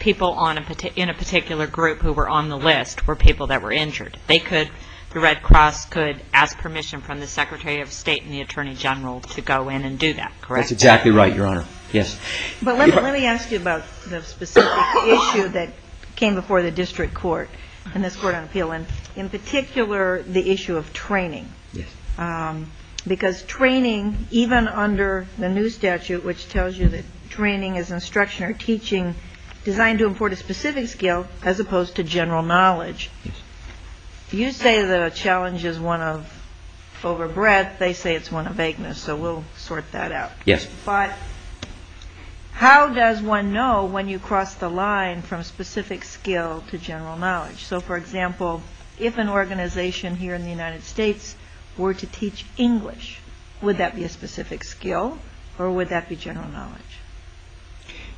people in a particular group who were on the list were people that were injured. They could, the Red Cross could ask permission from the Secretary of State and the Attorney General to go in and do that, correct? That's exactly right, Your Honor. Yes. But let me ask you about the specific issue that came before the district court and this Court on Appeal, and in particular the issue of training. Yes. Because training, even under the new statute, which tells you that training is instruction or teaching designed to import a specific skill as opposed to general knowledge, you say the challenge is one of overbreadth. They say it's one of vagueness. So we'll sort that out. Yes. But how does one know when you cross the line from specific skill to general knowledge? So, for example, if an organization here in the United States were to teach English, would that be a specific skill or would that be general knowledge?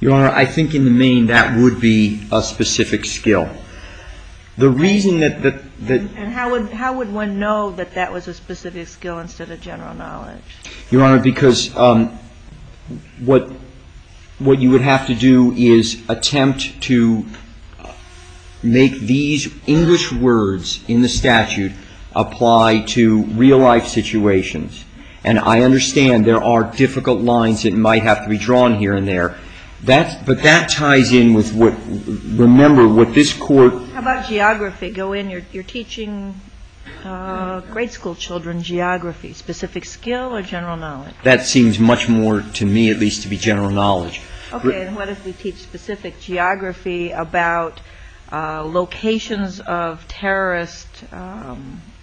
Your Honor, I think in the main that would be a specific skill. The reason that the – And how would one know that that was a specific skill instead of general knowledge? Your Honor, because what you would have to do is attempt to make these English words in the statute apply to real-life situations. And I understand there are difficult lines that might have to be drawn here and there. But that ties in with what – remember what this Court – How about geography? You're teaching grade school children geography. Specific skill or general knowledge? That seems much more, to me at least, to be general knowledge. Okay. And what if we teach specific geography about locations of terrorist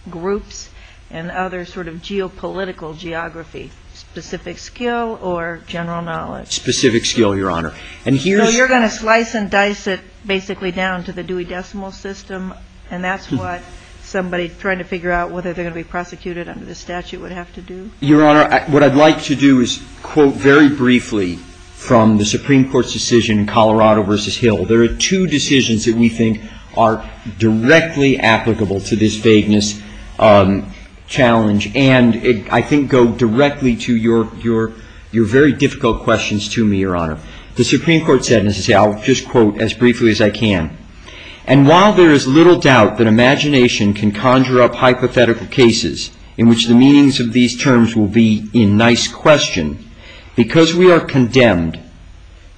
groups and other sort of geopolitical geography? Specific skill or general knowledge? Specific skill, Your Honor. So you're going to slice and dice it basically down to the Dewey Decimal System and that's what somebody trying to figure out whether they're going to be prosecuted under the statute would have to do? Your Honor, what I'd like to do is quote very briefly from the Supreme Court's decision in Colorado v. Hill. There are two decisions that we think are directly applicable to this vagueness challenge and I think go directly to your very difficult questions to me, Your Honor. The Supreme Court said, and I'll just quote as briefly as I can, and while there is little doubt that imagination can conjure up hypothetical cases in which the meanings of these terms will be in nice question, because we are condemned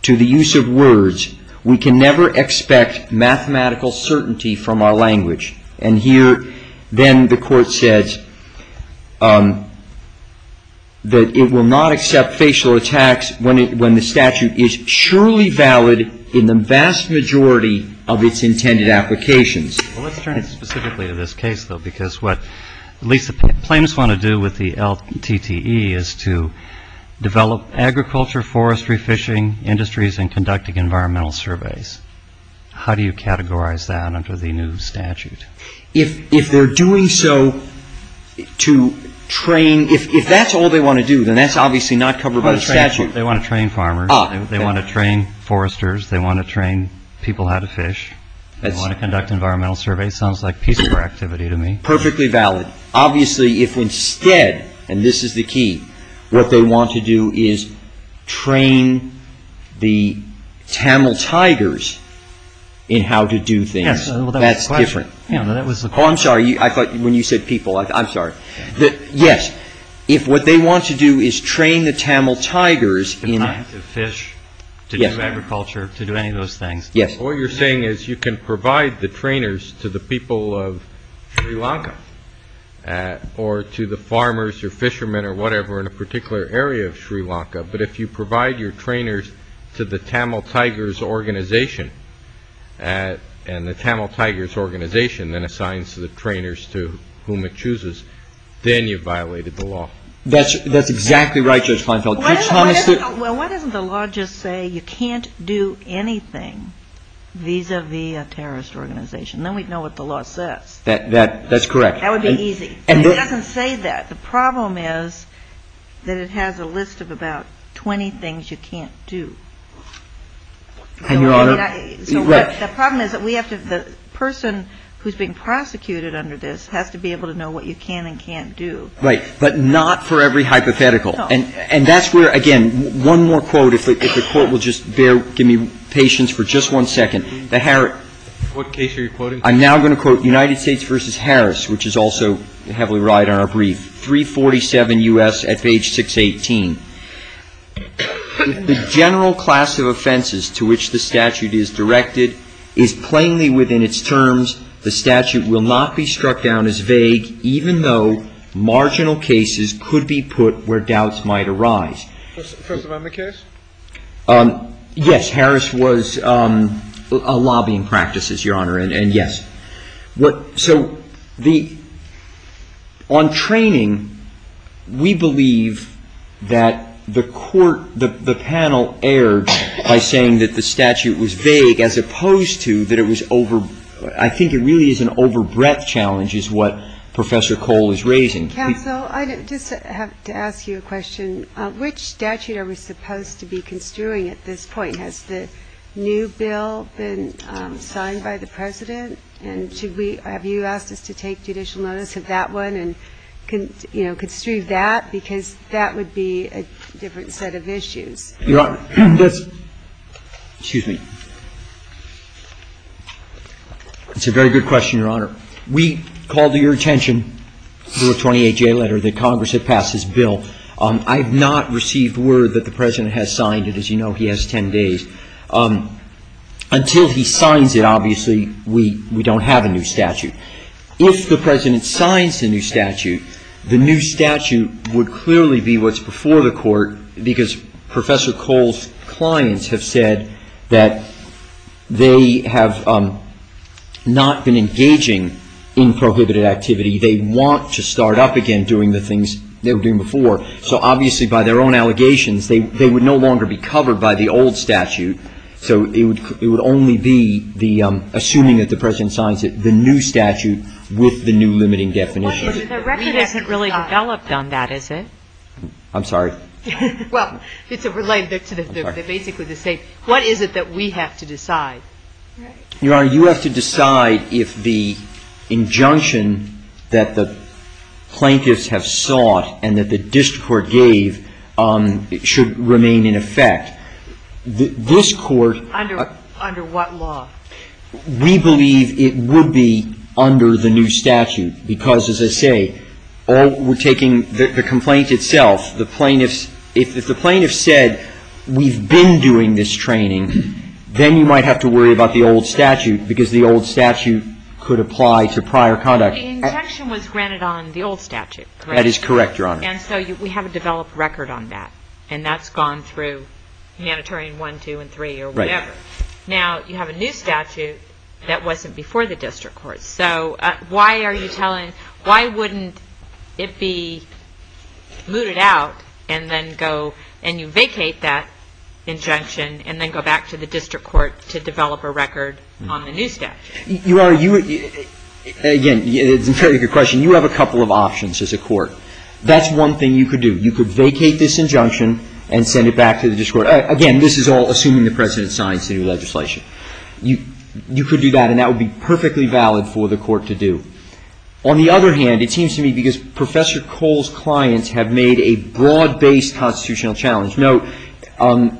to the use of words, we can never expect mathematical certainty from our language. And here then the Court said that it will not accept facial attacks when the statute is surely valid in the vast majority of its intended applications. Well, let's turn specifically to this case, though, because what at least the plaintiffs want to do with the LTTE is to develop agriculture, forestry, fishing, industries, and conducting environmental surveys. How do you categorize that under the new statute? If they're doing so to train, if that's all they want to do, then that's obviously not covered by the statute. They want to train farmers. They want to train foresters. They want to train people how to fish. They want to conduct environmental surveys. Sounds like piece of work activity to me. Perfectly valid. Obviously, if instead, and this is the key, what they want to do is train the Tamil Tigers in how to do things. That's different. I'm sorry. I thought when you said people, I'm sorry. Yes. If what they want to do is train the Tamil Tigers in... To fish, to do agriculture, to do any of those things. Yes. What you're saying is you can provide the trainers to the people of Sri Lanka or to the farmers or fishermen or whatever in a particular area of Sri Lanka, but if you provide your trainers to the Tamil Tigers organization and the Tamil Tigers organization then assigns the trainers to whom it chooses, then you've violated the law. That's exactly right, Judge Feinfeld. Well, why doesn't the law just say you can't do anything vis-à-vis a terrorist organization? Then we'd know what the law says. That's correct. That would be easy. It doesn't say that. The problem is that it has a list of about 20 things you can't do. And, Your Honor... The problem is that we have to, the person who's being prosecuted under this has to be able to know what you can and can't do. Right. But not for every hypothetical. No. And that's where, again, one more quote. If the Court will just bear, give me patience for just one second. The Harrod... What case are you quoting? I'm now going to quote United States v. Harris, which is also heavily right on our brief. 347 U.S. at page 618. The general class of offenses to which the statute is directed is plainly within its terms. The statute will not be struck down as vague, even though marginal cases could be put where doubts might arise. First Amendment case? Yes, Harris was a lobbying practice, Your Honor, and yes. So the, on training, we believe that the Court, the panel erred by saying that the statute was vague, as opposed to that it was over, I think it really is an over breadth challenge is what Professor Cole is raising. Counsel, I just have to ask you a question. Which statute are we supposed to be construing at this point? Has the new bill been signed by the President? And should we, have you asked us to take judicial notice of that one and, you know, construe that because that would be a different set of issues? Your Honor, that's, excuse me, that's a very good question, Your Honor. We called your attention to a 28-J letter that Congress had passed this bill. I have not received word that the President has signed it. As you know, he has 10 days. Until he signs it, obviously, we don't have a new statute. If the President signs the new statute, the new statute would clearly be what's before the Court because Professor Cole's clients have said that they have not been engaging in prohibited activity. They want to start up again doing the things they were doing before. So obviously, by their own allegations, they would no longer be covered by the old statute. So it would only be the assuming that the President signs it, the new statute with the new limiting definition. The record isn't really developed on that, is it? I'm sorry. Well, it's related to the basically the same. What is it that we have to decide? Your Honor, you have to decide if the injunction that the plaintiffs have sought and that the district court gave should remain in effect. This Court — Under what law? We believe it would be under the new statute because, as I say, we're taking the complaint itself. If the plaintiffs said, we've been doing this training, then you might have to worry about the old statute because the old statute could apply to prior conduct. The injunction was granted on the old statute, correct? That is correct, Your Honor. And so we have a developed record on that. And that's gone through Humanitarian 1, 2, and 3 or whatever. Right. Now, you have a new statute that wasn't before the district court. So why wouldn't it be mooted out and you vacate that injunction and then go back to the district court to develop a record on the new statute? Your Honor, again, it's a very good question. You have a couple of options as a court. That's one thing you could do. You could vacate this injunction and send it back to the district court. Again, this is all assuming the President signs the new legislation. You could do that, and that would be perfectly valid for the court to do. On the other hand, it seems to me because Professor Cole's clients have made a broad-based constitutional challenge. Now,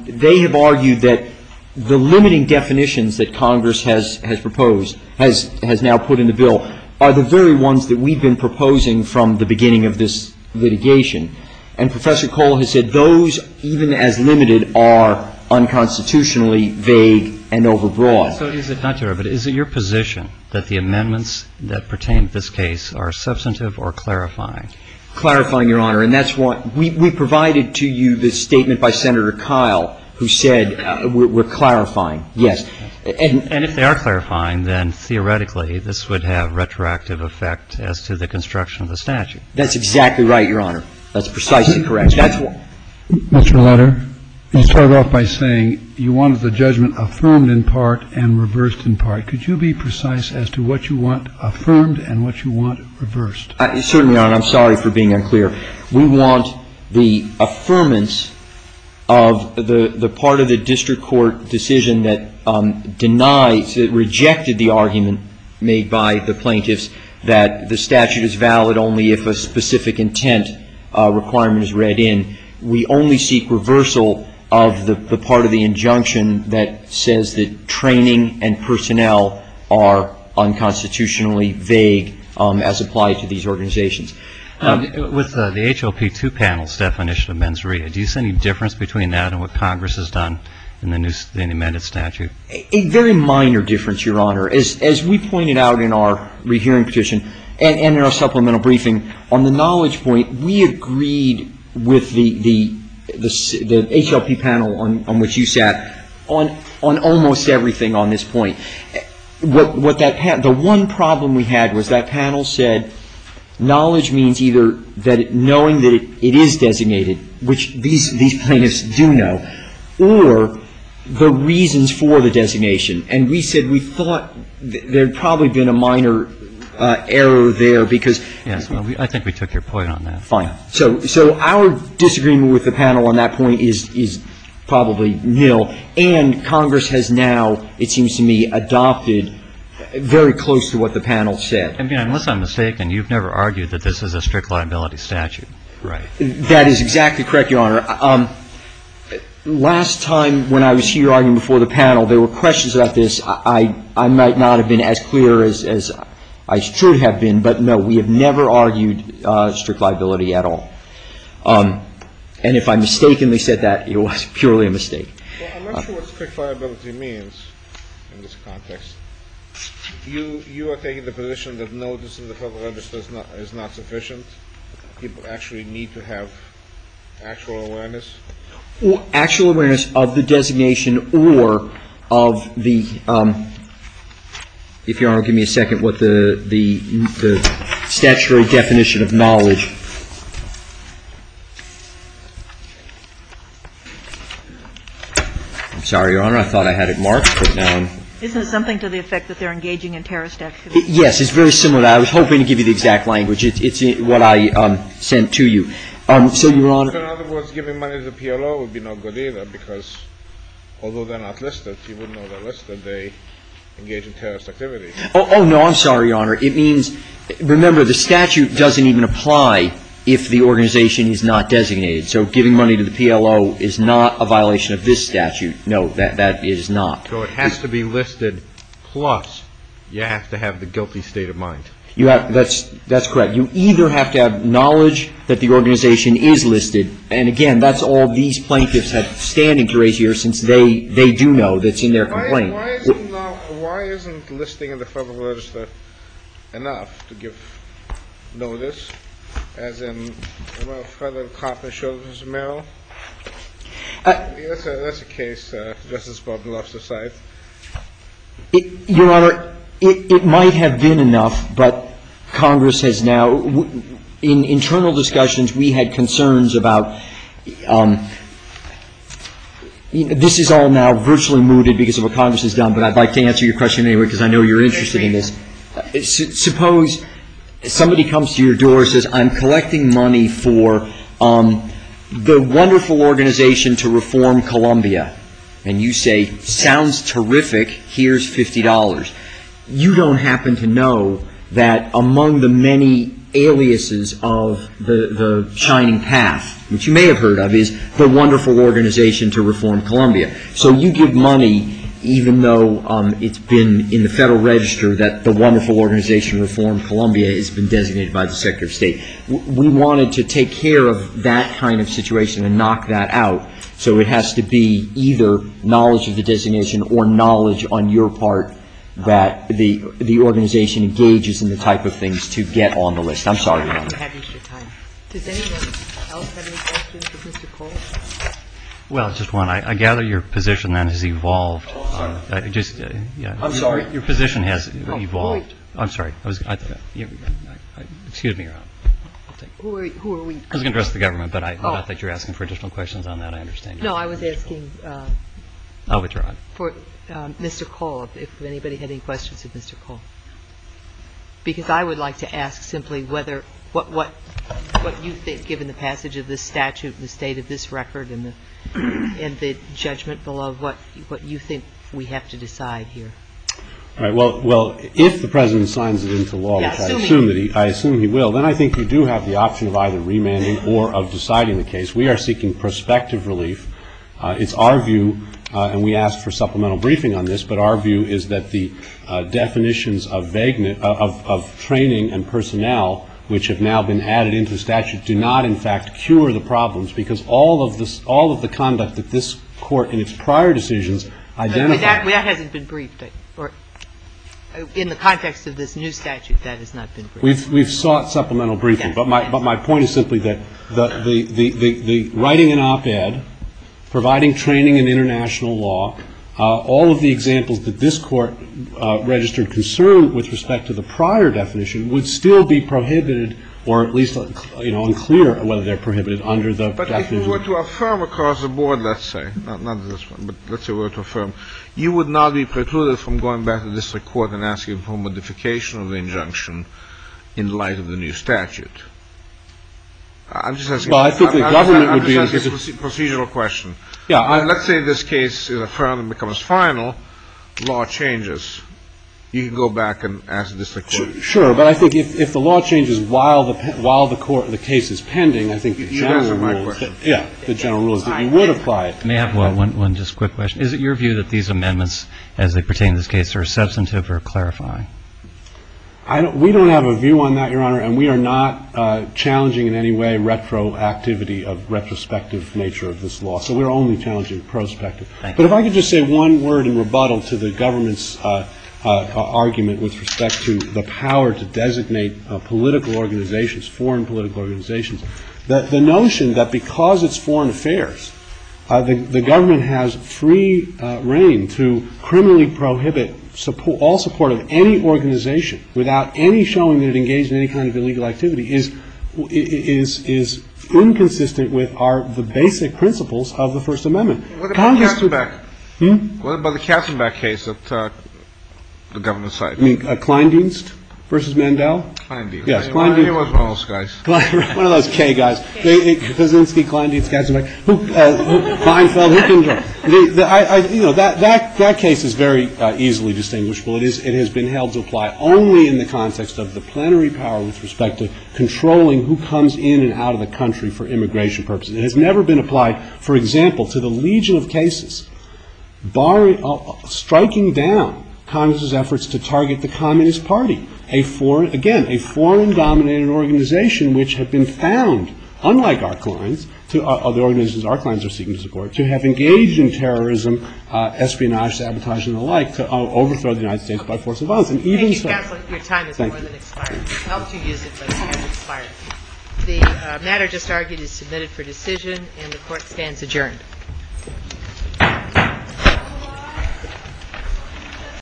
they have argued that the limiting definitions that Congress has proposed, has now put in the bill, are the very ones that we've been proposing from the beginning of this litigation. And Professor Cole has said those, even as limited, are unconstitutionally vague and overbroad. So is it not, Your Honor, but is it your position that the amendments that pertain to this case are substantive or clarifying? Clarifying, Your Honor. And that's what we provided to you, the statement by Senator Kyle, who said we're clarifying. Yes. And if they are clarifying, then theoretically this would have retroactive effect as to the construction of the statute. That's exactly right, Your Honor. That's precisely correct. Mr. Lutter, you started off by saying you wanted the judgment affirmed in part and reversed in part. Could you be precise as to what you want affirmed and what you want reversed? Certainly, Your Honor. I'm sorry for being unclear. We want the affirmance of the part of the district court decision that denies, that rejected the argument made by the plaintiffs that the statute is valid only if a specific intent requirement is read in. We only seek reversal of the part of the injunction that says that training and personnel are unconstitutionally vague as applied to these organizations. With the HOP2 panel's definition of mens rea, do you see any difference between that and what Congress has done in the amended statute? A very minor difference, Your Honor. As we pointed out in our rehearing petition and in our supplemental briefing, on the knowledge point, we agreed with the HOP panel on which you sat on almost everything on this point. The one problem we had was that panel said knowledge means either that knowing that it is designated, which these plaintiffs do know, or the reasons for the designation. And we said we thought there had probably been a minor error there because ---- Yes. I think we took your point on that. Fine. So our disagreement with the panel on that point is probably nil. And Congress has now, it seems to me, adopted very close to what the panel said. I mean, unless I'm mistaken, you've never argued that this is a strict liability statute. Right. That is exactly correct, Your Honor. Last time when I was here arguing before the panel, there were questions about this. I might not have been as clear as I should have been. But, no, we have never argued strict liability at all. And if I mistakenly said that, it was purely a mistake. Well, I'm not sure what strict liability means in this context. You are taking the position that notice in the Federal Register is not sufficient. People actually need to have actual awareness. Actual awareness of the designation or of the, if Your Honor will give me a second, what the statutory definition of knowledge. I'm sorry, Your Honor. I thought I had it marked. Isn't it something to the effect that they're engaging in terrorist activities? Yes. It's very similar to that. I was hoping to give you the exact language. It's what I sent to you. So, Your Honor. So, in other words, giving money to the PLO would be no good either because although they're not listed, people know they're listed, they engage in terrorist activities. Oh, no, I'm sorry, Your Honor. It means, remember, the statute doesn't even apply if the organization is not designated. So giving money to the PLO is not a violation of this statute. No, that is not. So it has to be listed plus you have to have the guilty state of mind. That's correct. You either have to have knowledge that the organization is listed, and, again, that's all these plaintiffs have standing to raise here since they do know that's in their complaint. Why isn't listing in the Federal Register enough to give notice, as in the Federal Copy of the Sheldon v. Merrill? I guess that's the case, just as Bob loves to cite. Your Honor, it might have been enough, but Congress has now, in internal discussions, we had concerns about this is all now virtually mooted because of what Congress has done, but I'd like to answer your question anyway because I know you're interested in this. Suppose somebody comes to your door and says, I'm collecting money for the wonderful organization to reform Columbia. And you say, sounds terrific, here's $50. You don't happen to know that among the many aliases of the shining path, which you may have heard of, is the wonderful organization to reform Columbia. So you give money, even though it's been in the Federal Register that the wonderful organization to reform Columbia has been designated by the Secretary of State. We wanted to take care of that kind of situation and knock that out. So it has to be either knowledge of the designation or knowledge on your part that the organization engages in the type of things to get on the list. I'm sorry, Your Honor. Does anyone else have any questions for Mr. Cole? Well, just one. I gather your position then has evolved. I'm sorry? Your position has evolved. I'm sorry. Excuse me, Your Honor. Who are we? I was going to address the government, but I know that you're asking for additional questions on that. I understand your position. No, I was asking for Mr. Cole, if anybody had any questions of Mr. Cole. Because I would like to ask simply what you think, given the passage of this statute and the state of this record and the judgment below, what you think we have to decide here. All right. Well, if the President signs it into law, which I assume he will, then I think you do have the option of either remanding or of deciding the case. We are seeking prospective relief. It's our view, and we asked for supplemental briefing on this, but our view is that the definitions of training and personnel, which have now been added into the statute, do not in fact cure the problems, because all of the conduct that this Court in its prior decisions identified. That hasn't been briefed. In the context of this new statute, that has not been briefed. We've sought supplemental briefing. But my point is simply that the writing in op-ed, providing training in international law, all of the examples that this Court registered concern with respect to the prior definition would still be prohibited or at least unclear whether they're prohibited under the definition. But if you were to affirm across the board, let's say, not this one, but let's say were to affirm, you would not be precluded from going back to district court and asking for modification of the injunction in light of the new statute. I'm just asking a procedural question. Let's say this case is affirmed and becomes final. Law changes. You can go back and ask the district court. Sure. But I think if the law changes while the case is pending, I think the general rule is that you would apply it. May I have one just quick question? Is it your view that these amendments, as they pertain to this case, are substantive or clarifying? We don't have a view on that, Your Honor. And we are not challenging in any way retroactivity of retrospective nature of this law. So we're only challenging prospective. Thank you. But if I could just say one word in rebuttal to the government's argument with respect to the power to designate political organizations, foreign political organizations, the notion that because it's foreign affairs, the government has free reign to criminally prohibit all support of any organization without any showing that it engaged in any kind of illegal activity is inconsistent with the basic principles of the First Amendment. What about the Katzenbach case that the government cited? You mean Kleindienst v. Mandel? Kleindienst. Yes, Kleindienst. He was one of those guys. One of those K guys. K. Kaczynski, Kleindienst, Katzenbach. Who? Feinfeld. Who can judge? You know, that case is very easily distinguishable. It has been held to apply only in the context of the plenary power with respect to controlling who comes in and out of the country for immigration purposes. It has never been applied, for example, to the legion of cases striking down Congress's target, the Communist Party, again, a foreign-dominated organization which had been found, unlike Arklines, to have engaged in terrorism, espionage, sabotage, and the like, to overthrow the United States by force of violence. Thank you, Counselor. Your time has more than expired. I helped you use it, but it has expired. The matter just argued is submitted for decision, and the Court stands adjourned.